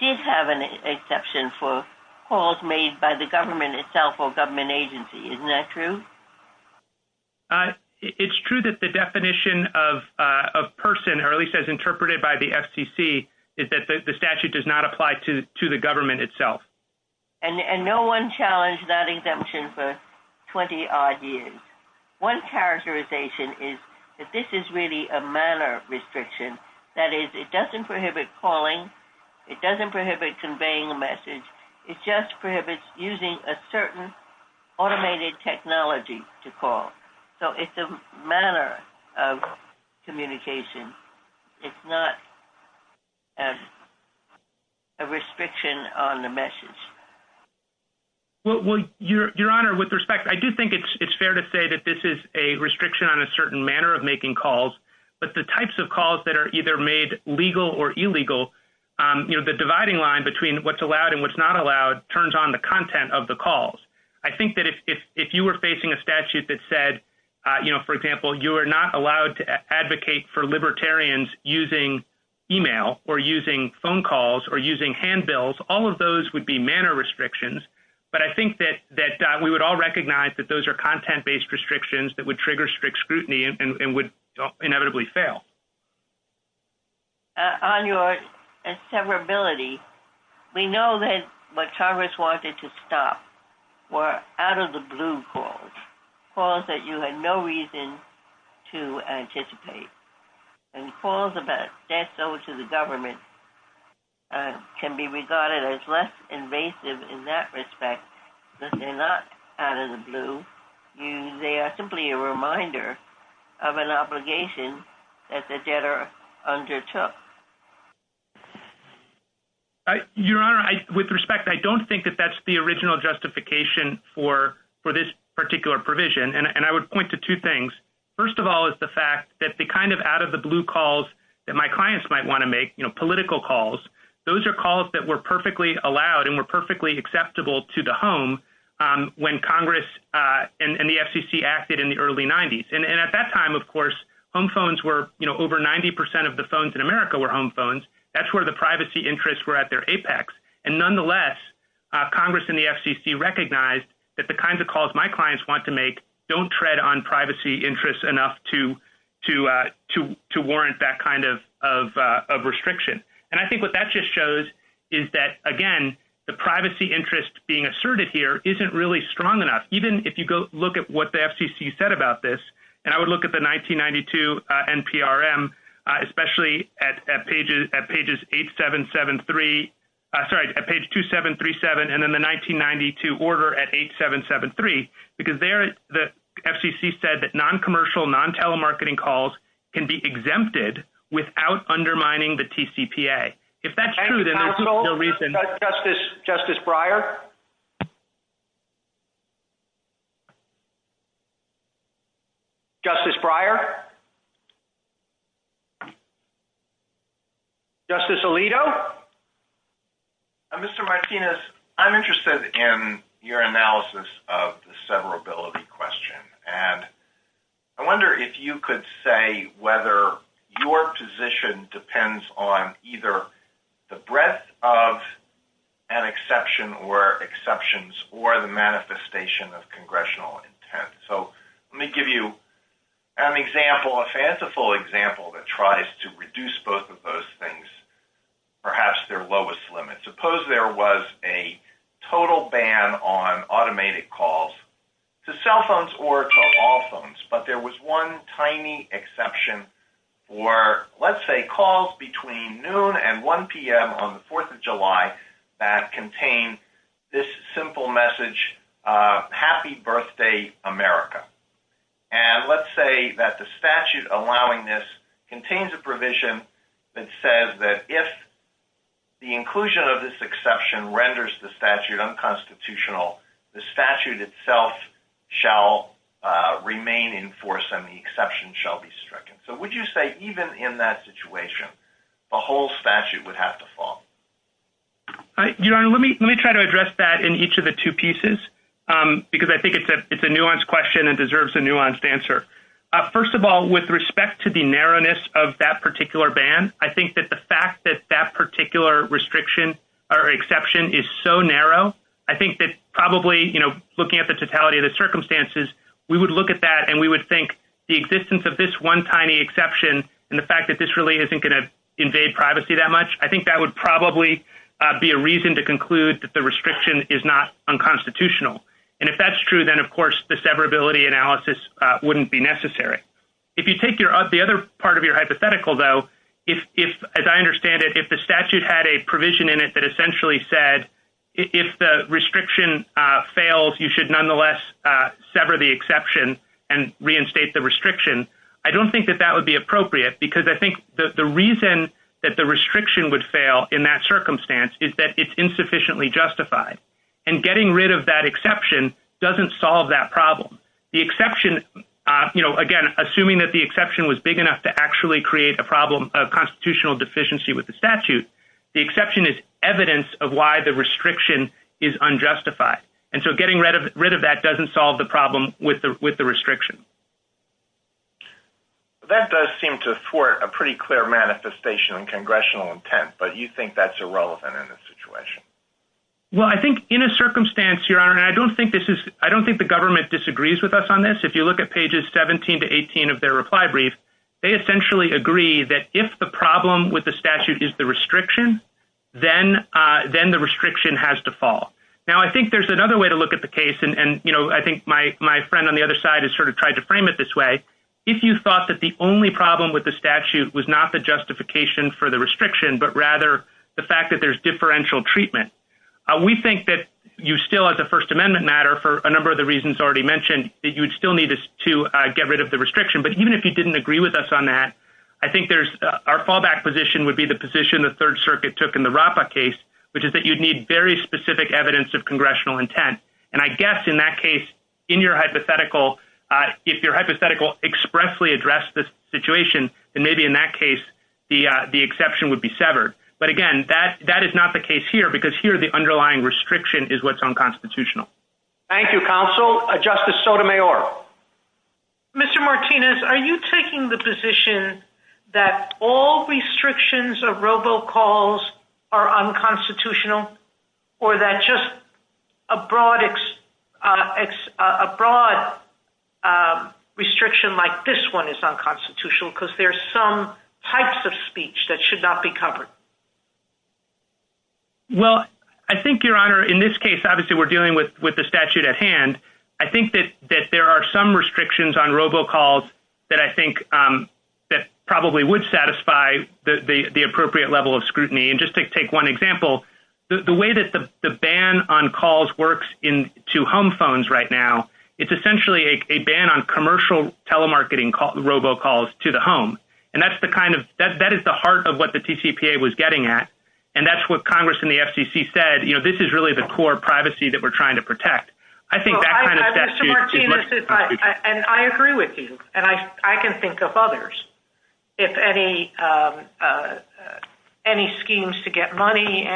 did have an exception for calls made by the government itself or government agency. Isn't that true? It's true that the definition of person, or at least as interpreted by the FCC, is that the statute does not apply to the government itself. And no one challenged that exemption for 20-odd years. One characterization is that this is really a minor restriction. That is, it doesn't prohibit calling. It doesn't prohibit conveying a message. It just prohibits using a certain automated technology to call. So it's a matter of communication. It's not a restriction on the message. Well, Your Honor, with respect, I do think it's fair to say that this is a restriction on a certain manner of making calls. But the types of calls that are either made legal or illegal, the dividing line between what's allowed and what's not allowed turns on the content of the calls. I think that if you were facing a statute that said, for example, you are not allowed to advocate for libertarians using e-mail or using phone calls or using handbills, all of those would be manner restrictions. But I think that we would all recognize that those are content-based restrictions that would trigger strict scrutiny and would inevitably fail. On your severability, we know that what Congress wanted to stop were out-of-the-blue calls, calls that you had no reason to anticipate. And calls about death owed to the government can be regarded as less invasive in that respect because they're not out-of-the-blue. They are simply a reminder of an obligation that the debtor undertook. Your Honor, with respect, I don't think that that's the original justification for this particular provision. And I would point to two things. First of all is the fact that the kind of out-of-the-blue calls that my clients might want to make, you know, political calls, those are calls that were perfectly allowed and were perfectly acceptable to the home when Congress and the FCC acted in the early 90s. And at that time, of course, home phones were, you know, over 90% of the phones in America were home phones. That's where the privacy interests were at their apex. And nonetheless, Congress and the FCC recognized that the kinds of calls my clients want to make don't tread on privacy interests enough to warrant that kind of restriction. And I think what that just shows is that, again, the privacy interest being asserted here isn't really strong enough. Even if you go look at what the FCC said about this, and I would look at the 1992 NPRM, especially at pages 8773, sorry, at page 2737 and then the 1992 order at 8773, because there the FCC said that non-commercial, non-telemarketing calls can be exempted without undermining the TCPA. If that's true, then that's the reason. Justice Breyer? Justice Breyer? Justice Alito? Mr. Martinez, I'm interested in your analysis of the severability question. And I wonder if you could say whether your position depends on either the breadth of an exception or exceptions or the manifestation of congressional intent. So let me give you an example, a fanciful example that tries to reduce both of those things, perhaps their lowest limit. Suppose there was a total ban on automated calls to cell phones or to all phones, but there was one tiny exception for, let's say, calls between noon and 1 p.m. on the 4th of July that contained this simple message, happy birthday, America. And let's say that the statute allowing this contains a provision that says that if the inclusion of this exception renders the statute unconstitutional, the statute itself shall remain in force and the exception shall be stricken. So would you say even in that situation, the whole statute would have to fall? Your Honor, let me try to address that in each of the two pieces, because I think it's a nuanced question and deserves a nuanced answer. First of all, with respect to the narrowness of that particular ban, I think that the fact that that particular restriction or exception is so narrow, I think that probably, you know, looking at the totality of the circumstances, we would look at that and we would think the existence of this one tiny exception and the fact that this really isn't going to invade privacy that much, I think that would probably be a reason to conclude that the restriction is not unconstitutional. And if that's true, then, of course, the severability analysis wouldn't be necessary. If you take the other part of your hypothetical, though, if, as I understand it, if the statute had a provision in it that essentially said if the restriction fails, you should nonetheless sever the exception and reinstate the restriction, I don't think that that would be appropriate, because I think the reason that the restriction would fail in that circumstance is that it's insufficiently justified. And getting rid of that exception doesn't solve that problem. The exception, you know, again, assuming that the exception was big enough to actually create a problem of constitutional deficiency with the statute, the exception is evidence of why the restriction is unjustified. And so getting rid of that doesn't solve the problem with the restriction. That does seem to thwart a pretty clear manifestation of congressional intent, but you think that's irrelevant in this situation? Well, I think in a circumstance here, and I don't think this is, I don't think the government disagrees with us on this. If you look at pages 17 to 18 of their reply brief, they essentially agree that if the problem with the statute is the restriction, then the restriction has to fall. Now, I think there's another way to look at the case, and, you know, I think my friend on the other side has sort of tried to frame it this way. If you thought that the only problem with the statute was not the justification for the restriction, but rather the fact that there's differential treatment, we think that you still, as a First Amendment matter, for a number of the reasons already mentioned, that you would still need to get rid of the restriction. But even if you didn't agree with us on that, I think our fallback position would be the position the Third Circuit took in the RAPA case, which is that you'd need very specific evidence of congressional intent. And I guess in that case, in your hypothetical, if your hypothetical expressly addressed the situation, then maybe in that case the exception would be severed. But, again, that is not the case here, because here the underlying restriction is what's unconstitutional. Thank you, Counsel. Justice Sotomayor. Mr. Martinez, are you taking the position that all restrictions of robocalls are unconstitutional, or that just a broad restriction like this one is unconstitutional because there's some types of speech that should not be covered? Well, I think, Your Honor, in this case, obviously we're dealing with the statute at hand. I think that there are some restrictions on robocalls that I think probably would satisfy the appropriate level of scrutiny. And just to take one example, the way that the ban on calls works to home phones right now, it's essentially a ban on commercial telemarketing robocalls to the home. And that is the heart of what the TCPA was getting at, and that's what Congress and the FCC said, you know, this is really the core privacy that we're trying to protect. I think that kind of statute is what's constitutional. And I agree with you, and I can think of others. If any schemes to get money,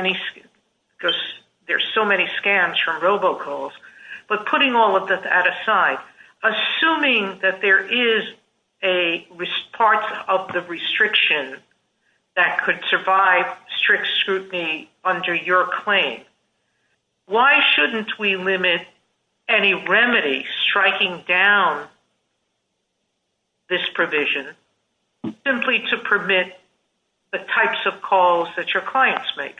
because there's so many scans from robocalls. But putting all of that aside, assuming that there is a part of the restriction that could survive strict scrutiny under your claim, why shouldn't we limit any remedy striking down this provision simply to permit the types of calls that your clients make?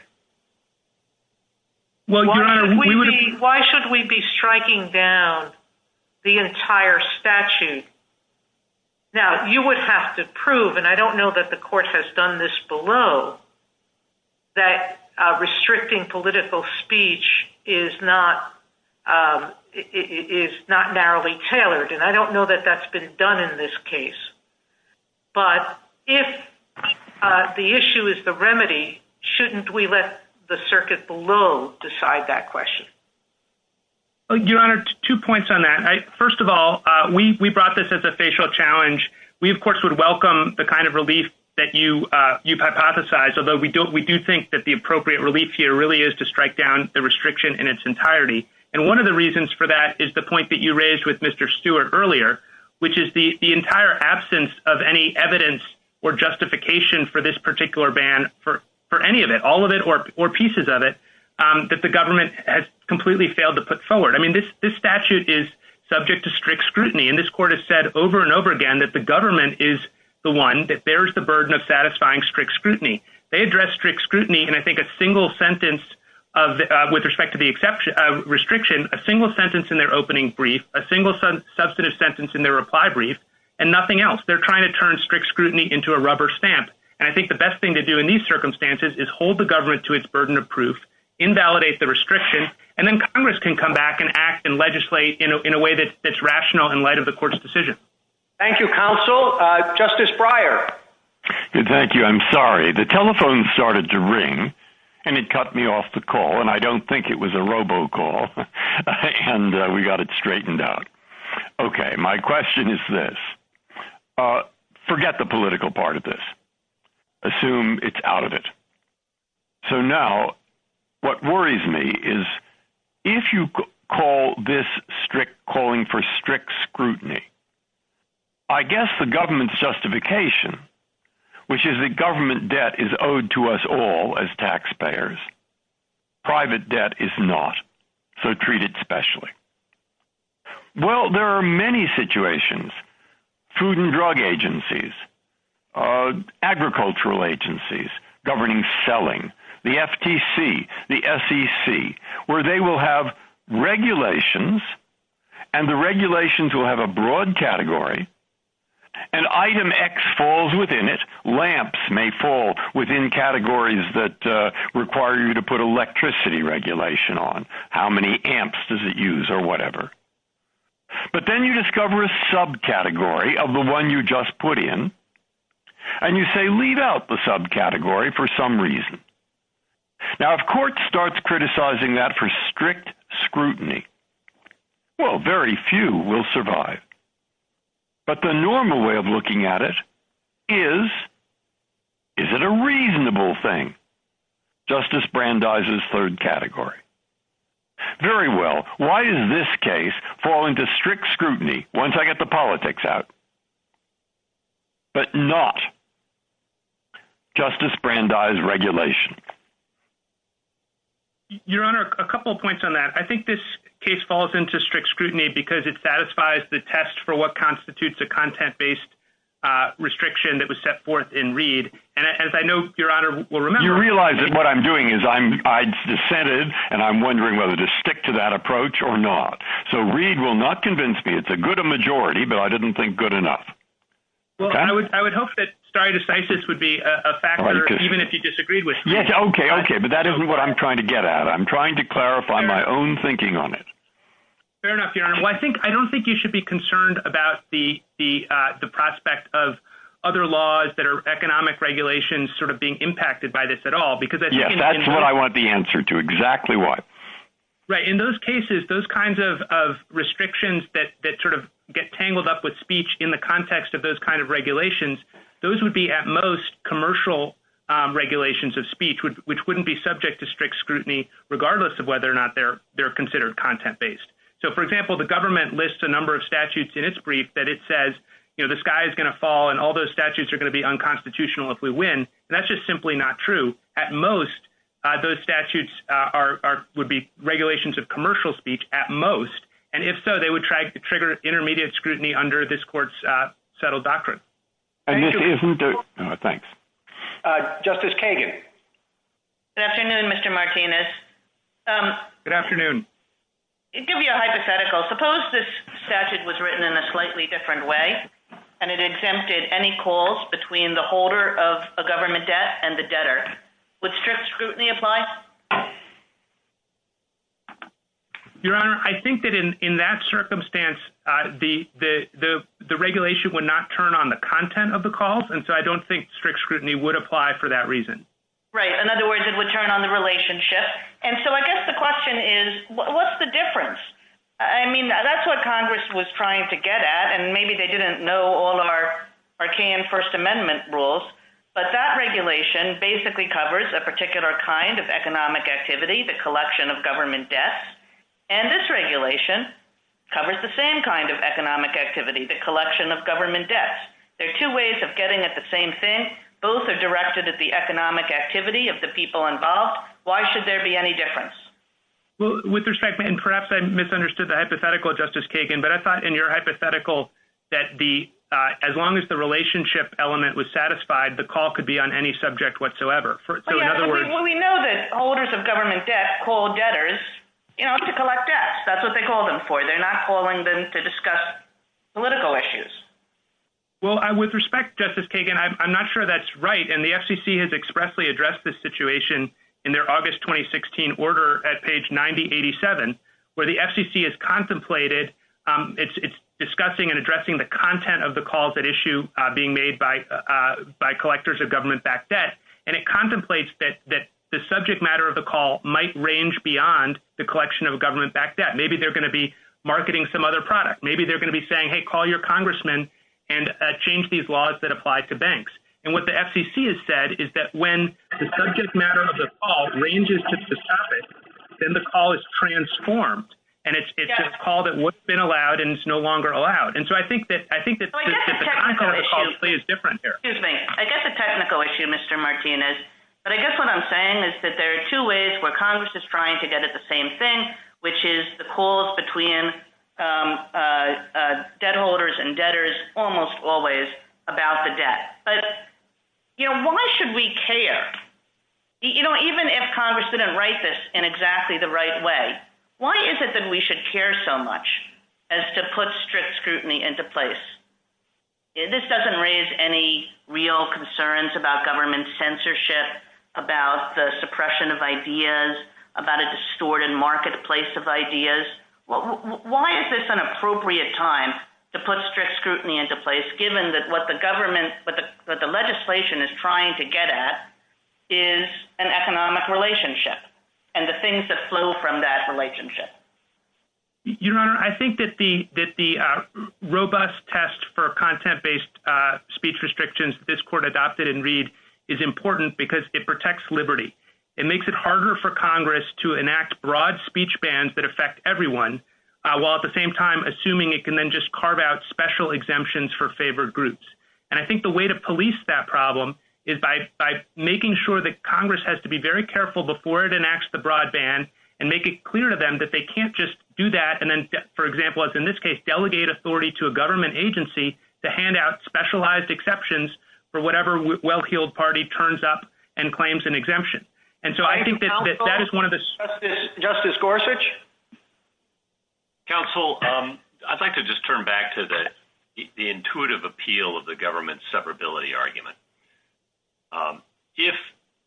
Why should we be striking down the entire statute? Now, you would have to prove, and I don't know that the court has done this below, that restricting political speech is not narrowly tailored, and I don't know that that's been done in this case. But if the issue is the remedy, shouldn't we let the circuit below decide that question? Your Honor, two points on that. First of all, we brought this as a facial challenge. We, of course, would welcome the kind of relief that you hypothesized, although we do think that the appropriate relief here really is to strike down the restriction in its entirety. And one of the reasons for that is the point that you raised with Mr. Stewart earlier, which is the entire absence of any evidence or justification for this particular ban for any of it, all of it or pieces of it, that the government has completely failed to put forward. I mean, this statute is subject to strict scrutiny, and this court has said over and over again that the government is the one, that there is the burden of satisfying strict scrutiny. They address strict scrutiny in, I think, a single sentence with respect to the restriction, a single sentence in their opening brief, a single substantive sentence in their reply brief, and nothing else. They're trying to turn strict scrutiny into a rubber stamp. And I think the best thing to do in these circumstances is hold the government to its burden of proof, invalidate the restriction, and then Congress can come back and act and legislate in a way that's rational in light of the court's decision. Thank you, counsel. Justice Breyer. Thank you. I'm sorry. The telephone started to ring, and it cut me off the call, and I don't think it was a robo-call, and we got it straightened out. Okay. My question is this. Forget the political part of this. Assume it's out of it. So now what worries me is if you call this calling for strict scrutiny, I guess the government's justification, which is that government debt is owed to us all as taxpayers, private debt is not, so treat it specially. Well, there are many situations, food and drug agencies, agricultural agencies governing selling, the FTC, the SEC, where they will have regulations, and the regulations will have a broad category, and item X falls within it. Lamps may fall within categories that require you to put electricity regulation on. How many amps does it use or whatever? But then you discover a subcategory of the one you just put in, and you say leave out the subcategory for some reason. Now, if court starts criticizing that for strict scrutiny, well, very few will survive. But the normal way of looking at it is, is it a reasonable thing? Justice Brandeis's third category. Very well. Why does this case fall into strict scrutiny once I get the politics out, but not Justice Brandeis regulation? Your Honor, a couple of points on that. I think this case falls into strict scrutiny because it satisfies the test for what constitutes a content-based restriction that was set forth in Reed. And as I know, Your Honor will remember, you realize that what I'm doing is I'm I'd dissented, and I'm wondering whether to stick to that approach or not. So Reed will not convince me it's a good majority, but I didn't think good enough. Well, I would hope that stare decisis would be a factor, even if you disagreed with me. Okay. Okay. But that isn't what I'm trying to get at. I'm trying to clarify my own thinking on it. Fair enough, Your Honor. Well, I don't think you should be concerned about the prospect of other laws that are economic regulations sort of being impacted by this at all. Yes, that's what I want the answer to, exactly why. Right. In those cases, those kinds of restrictions that sort of get tangled up with speech in the context of those kinds of regulations, those would be at most commercial regulations of speech, which wouldn't be subject to strict scrutiny, regardless of whether or not they're considered content-based. So, for example, the government lists a number of statutes in its brief that it says, you know, the sky is going to fall and all those statutes are going to be unconstitutional if we win. And that's just simply not true. So, at most, those statutes would be regulations of commercial speech at most. And if so, they would try to trigger intermediate scrutiny under this court's settled doctrine. Justice Kagan. Good afternoon, Mr. Martinez. Good afternoon. To give you a hypothetical, suppose this statute was written in a slightly different way, and it exempted any calls between the holder of a government debt and the debtor. Would strict scrutiny apply? Your Honor, I think that in that circumstance, the regulation would not turn on the content of the calls, and so I don't think strict scrutiny would apply for that reason. Right. In other words, it would turn on the relationship. And so I guess the question is, what's the difference? I mean, that's what Congress was trying to get at, and maybe they didn't know all our arcane First Amendment rules, but that regulation basically covers a particular kind of economic activity, the collection of government debts, and this regulation covers the same kind of economic activity, the collection of government debts. There are two ways of getting at the same thing. Both are directed at the economic activity of the people involved. Why should there be any difference? With respect, and perhaps I misunderstood the hypothetical, Justice Kagan, but I thought in your hypothetical that as long as the relationship element was satisfied, the call could be on any subject whatsoever. Well, we know that holders of government debt call debtors to collect debts. That's what they call them for. They're not calling them to discuss political issues. Well, with respect, Justice Kagan, I'm not sure that's right, and the FCC has expressly addressed this situation in their August 2016 order at page 9087, where the FCC has contemplated discussing and addressing the content of the calls at issue being made by collectors of government-backed debt, and it contemplates that the subject matter of the call might range beyond the collection of government-backed debt. Maybe they're going to be marketing some other product. Maybe they're going to be saying, hey, call your congressman and change these laws that apply to banks. And what the FCC has said is that when the subject matter of the call ranges to the topic, then the call is transformed, and it's a call that would have been allowed and is no longer allowed. And so I think the technical issue is different here. Excuse me. I get the technical issue, Mr. Martinez, but I guess what I'm saying is that there are two ways where Congress is trying to get at the same thing, which is the calls between debt holders and debtors almost always about the debt. But, you know, why should we care? You know, even if Congress didn't write this in exactly the right way, why is it that we should care so much as to put strict scrutiny into place? This doesn't raise any real concerns about government censorship, about the suppression of ideas, about a distorted marketplace of ideas. Why is this an appropriate time to put strict scrutiny into place given that what the government, what the legislation is trying to get at is an economic relationship and the things that flow from that relationship? Your Honor, I think that the robust test for content-based speech restrictions that this court adopted in Reed is important because it protects liberty. It makes it harder for Congress to enact broad speech bans that affect everyone, while at the same time assuming it can then just carve out special exemptions for favored groups. And I think the way to police that problem is by making sure that Congress has to be very careful before it enacts the broad ban and make it clear to them that they can't just do that and then, for example, as in this case, delegate authority to a government agency to hand out specialized exceptions for whatever well-heeled party turns up and claims an exemption. And so I think that that is one of the – Justice Gorsuch? Counsel, I'd like to just turn back to the intuitive appeal of the government severability argument. If,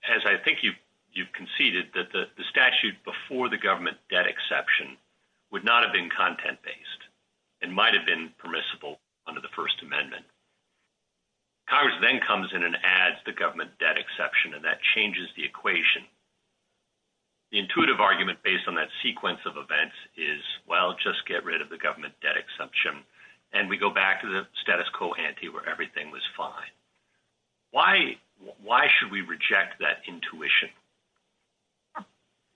as I think you've conceded, that the statute before the government debt exception would not have been Congress then comes in and adds the government debt exception, and that changes the equation. The intuitive argument based on that sequence of events is, well, just get rid of the government debt exception, and we go back to the status quo ante where everything was fine. Why should we reject that intuition?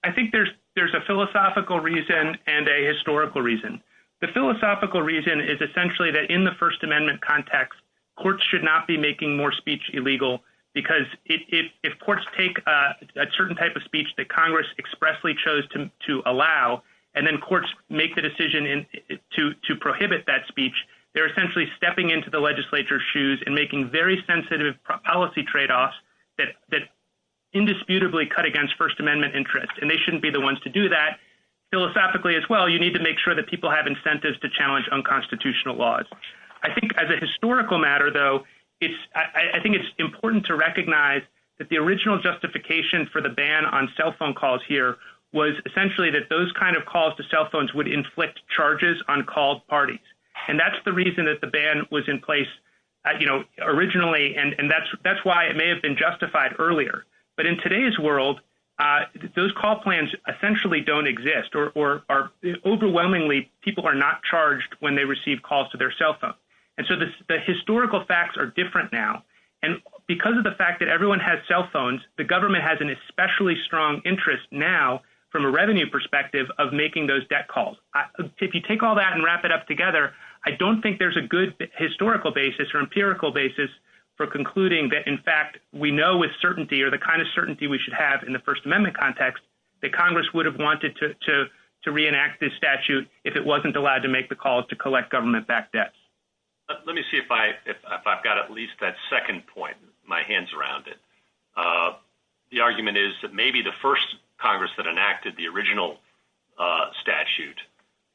I think there's a philosophical reason and a historical reason. The philosophical reason is essentially that in the First Amendment context, courts should not be making more speech illegal because if courts take a certain type of speech that Congress expressly chose to allow and then courts make the decision to prohibit that speech, they're essentially stepping into the legislature's shoes and making very sensitive policy tradeoffs that indisputably cut against First Amendment interest, and they shouldn't be the ones to do that. Philosophically as well, you need to make sure that people have incentives to challenge unconstitutional laws. I think as a historical matter, though, I think it's important to recognize that the original justification for the ban on cell phone calls here was essentially that those kind of calls to cell phones would inflict charges on called parties, and that's the reason that the ban was in place originally, and that's why it may have been justified earlier. But in today's world, those call plans essentially don't exist, or overwhelmingly people are not charged when they receive calls to their cell phone. And so the historical facts are different now, and because of the fact that everyone has cell phones, the government has an especially strong interest now from a revenue perspective of making those debt calls. If you take all that and wrap it up together, I don't think there's a good historical basis or empirical basis for concluding that, in fact, we know with certainty, or the kind of certainty we should have in the First Amendment context, that Congress would have wanted to reenact this statute if it wasn't allowed to make the calls to collect government-backed debts. Let me see if I've got at least that second point, my hands around it. The argument is that maybe the first Congress that enacted the original statute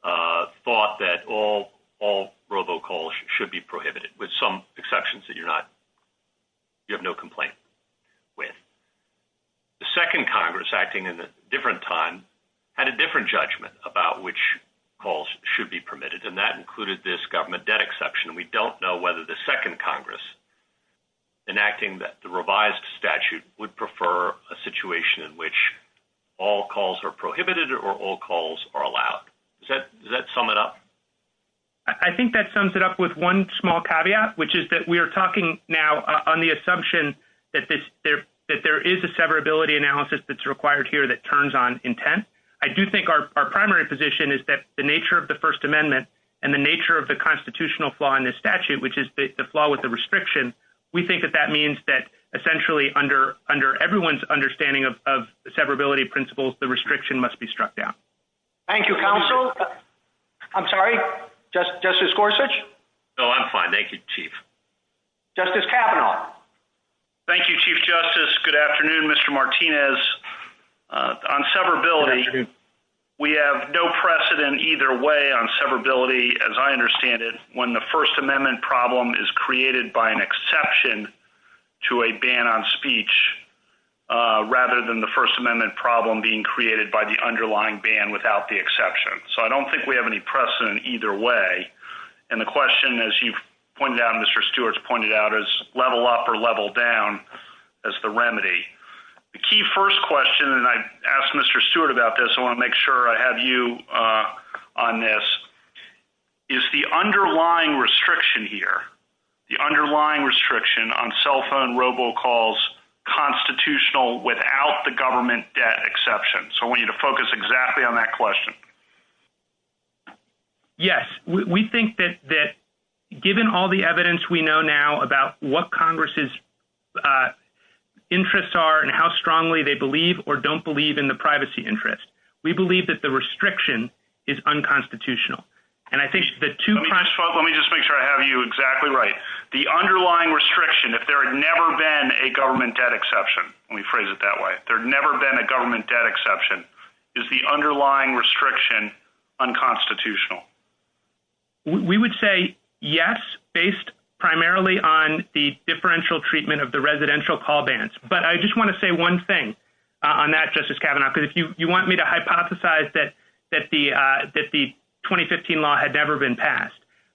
thought that all robo-calls should be prohibited, with some exceptions that you have no complaint with. The second Congress, acting at a different time, had a different judgment about which calls should be permitted, and that included this government debt exception. We don't know whether the second Congress, enacting the revised statute, would prefer a situation in which all calls are prohibited or all calls are allowed. Does that sum it up? I think that sums it up with one small caveat, which is that we are talking now on the assumption that there is a severability analysis that's required here that turns on intent. I do think our primary position is that the nature of the First Amendment and the nature of the constitutional flaw in this statute, which is the flaw with the restriction, we think that that means that essentially under everyone's understanding of severability principles, the restriction must be struck down. Thank you, counsel. I'm sorry. Justice Gorsuch? No, I'm fine. Thank you, Chief. Justice Kavanaugh? Thank you, Chief Justice. Good afternoon, Mr. Martinez. On severability, we have no precedent either way on severability, as I understand it, when the First Amendment problem is created by an exception to a ban on speech rather than the First Amendment problem being created by the underlying ban without the exception. So I don't think we have any precedent either way. And the question, as you've pointed out and Mr. Stewart's pointed out, is level up or level down as the remedy. The key first question, and I asked Mr. Stewart about this, I want to make sure I have you on this, is the underlying restriction here, the underlying restriction on cell phone robocalls constitutional without the government debt exception. So I want you to focus exactly on that question. Yes. We think that given all the evidence we know now about what Congress's interests are and how strongly they believe or don't believe in the privacy interest, we believe that the restriction is unconstitutional. Let me just make sure I have you exactly right. The underlying restriction, if there had never been a government debt exception, let me phrase it that way, if there had never been a government debt exception, is the underlying restriction unconstitutional? We would say yes based primarily on the differential treatment of the residential call bans. But I just want to say one thing on that, Justice Kavanaugh, because you want me to hypothesize that the 2015 law had never been passed.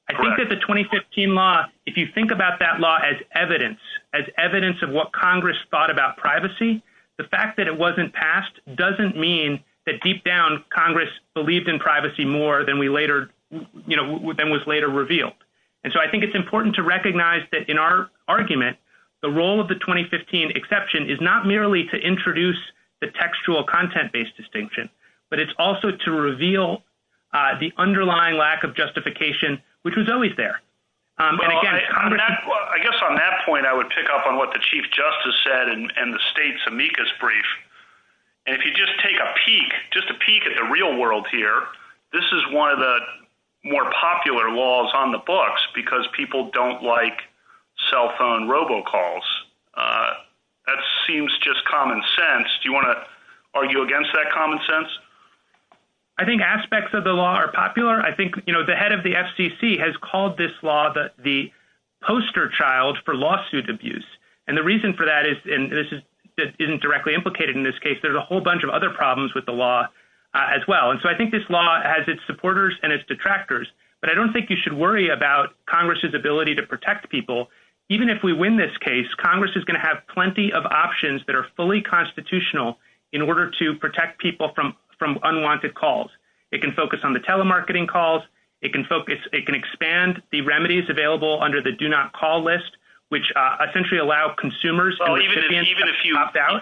I think that the 2015 law, if you think about that law as evidence, as evidence of what Congress thought about privacy, the fact that it wasn't passed doesn't mean that deep down Congress believed in privacy more than was later revealed. So I think it's important to recognize that in our argument, the role of the 2015 exception is not merely to introduce the textual content-based distinction, but it's also to reveal the underlying lack of justification, which was always there. I guess on that point I would pick up on what the Chief Justice said in the state's amicus brief. If you just take a peek, just a peek at the real world here, this is one of the more popular laws on the books because people don't like cell phone robocalls. That seems just common sense. Do you want to argue against that common sense? I think aspects of the law are popular. I think the head of the FCC has called this law the poster child for lawsuit abuse. And the reason for that is, and this isn't directly implicated in this case, there's a whole bunch of other problems with the law as well. And so I think this law has its supporters and its detractors. But I don't think you should worry about Congress's ability to protect people. Even if we win this case, Congress is going to have plenty of options that are fully constitutional in order to protect people from unwanted calls. It can focus on the telemarketing calls. It can expand the remedies available under the do not call list, which essentially allow consumers and recipients to opt out.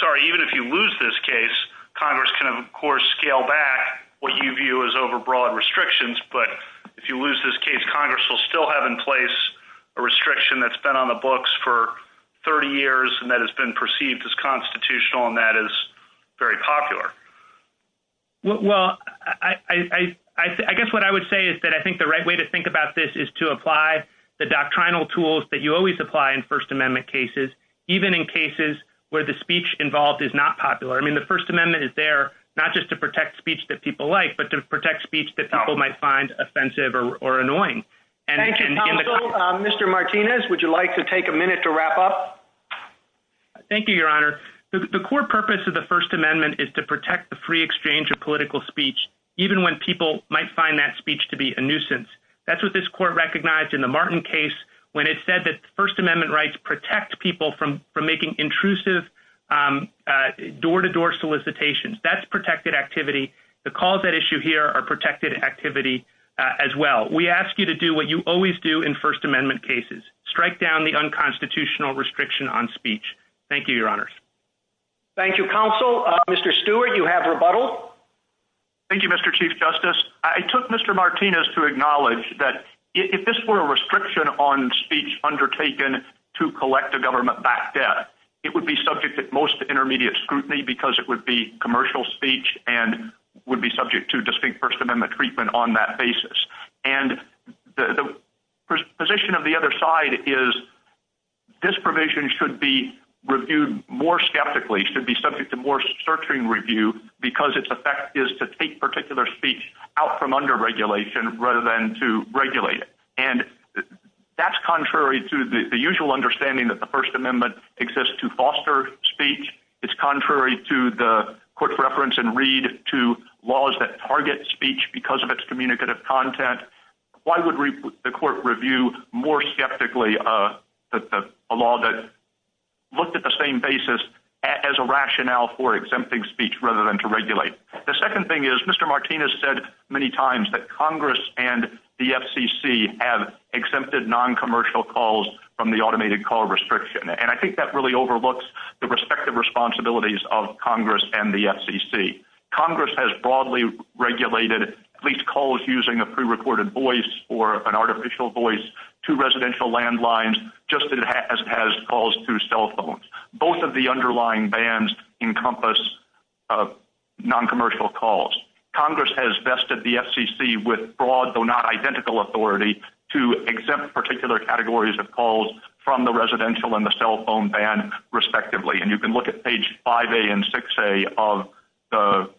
Sorry, even if you lose this case, Congress can, of course, scale back what you view as overbroad restrictions. But if you lose this case, Congress will still have in place a restriction that's been on the books for 30 years and that has been perceived as constitutional and that is very popular. Well, I guess what I would say is that I think the right way to think about this is to apply the doctrinal tools that you always apply in First Amendment cases, even in cases where the speech involved is not popular. I mean, the First Amendment is there not just to protect speech that people like, but to protect speech that people might find offensive or annoying. Thank you, Counselor. Mr. Martinez, would you like to take a minute to wrap up? Thank you, Your Honor. The core purpose of the First Amendment is to protect the free exchange of political speech, even when people might find that speech to be a nuisance. That's what this court recognized in the Martin case when it said that First Amendment rights protect people from making intrusive door-to-door solicitations. That's protected activity. The calls at issue here are protected activity as well. We ask you to do what you always do in First Amendment cases. Strike down the unconstitutional restriction on speech. Thank you, Your Honors. Thank you, Counsel. Mr. Stewart, you have rebuttal. Thank you, Mr. Chief Justice. I took Mr. Martinez to acknowledge that if this were a restriction on speech undertaken to collect a government-backed debt, it would be subject at most to intermediate scrutiny because it would be commercial speech and would be subject to distinct First Amendment treatment on that basis. And the position of the other side is this provision should be reviewed more skeptically, should be subject to more searching review because its effect is to take particular speech out from under regulation rather than to regulate. And that's contrary to the usual understanding that the First Amendment exists to foster speech. It's contrary to the court's reference in Reed to laws that target speech because of its communicative content. Why would the court review more skeptically a law that looked at the same basis as a rationale for exempting speech rather than to regulate? The second thing is Mr. Martinez said many times that Congress and the FCC have exempted noncommercial calls from the automated call restriction. And I think that really overlooks the respective responsibilities of Congress and the FCC. Congress has broadly regulated at least calls using a prerecorded voice or an artificial voice to residential landlines just as it has calls to cell phones. Both of the underlying bans encompass noncommercial calls. Congress has vested the FCC with broad, though not identical, authority to exempt particular categories of calls from the residential and the cell phone ban, respectively. And you can look at page 5A and 6A of the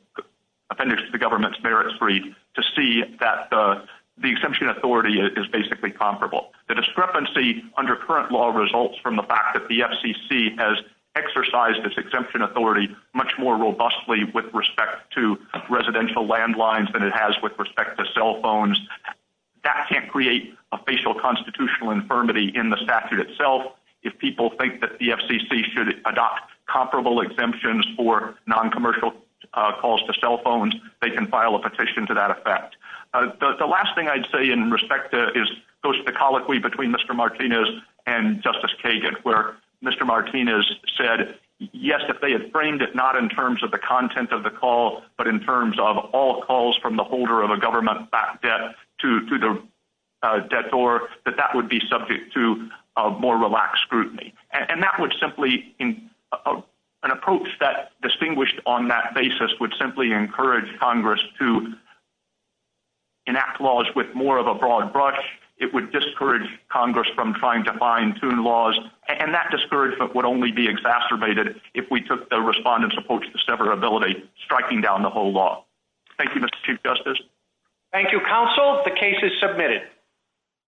Offenders to the Government's Merits Read to see that the exemption authority is basically comparable. The discrepancy under current law results from the fact that the FCC has exercised its exemption authority much more robustly with respect to residential landlines than it has with respect to cell phones. That can't create a facial constitutional infirmity in the statute itself. If people think that the FCC should adopt comparable exemptions for noncommercial calls to cell phones, they can file a petition to that effect. The last thing I'd say in respect to is the colloquy between Mr. Martinez and Justice Kagan, where Mr. Martinez said, yes, if they had framed it not in terms of the content of the call, but in terms of all calls from the holder of a government-backed debt to the debtor, that that would be subject to more relaxed scrutiny. And that would simply – an approach that distinguished on that basis would simply encourage Congress to enact laws with more of a broad brush. It would discourage Congress from trying to fine-tune laws. And that discouragement would only be exacerbated if we took the Respondent's approach to severability, striking down the whole law. Thank you, Mr. Chief Justice. Thank you, Counsel. The case is submitted.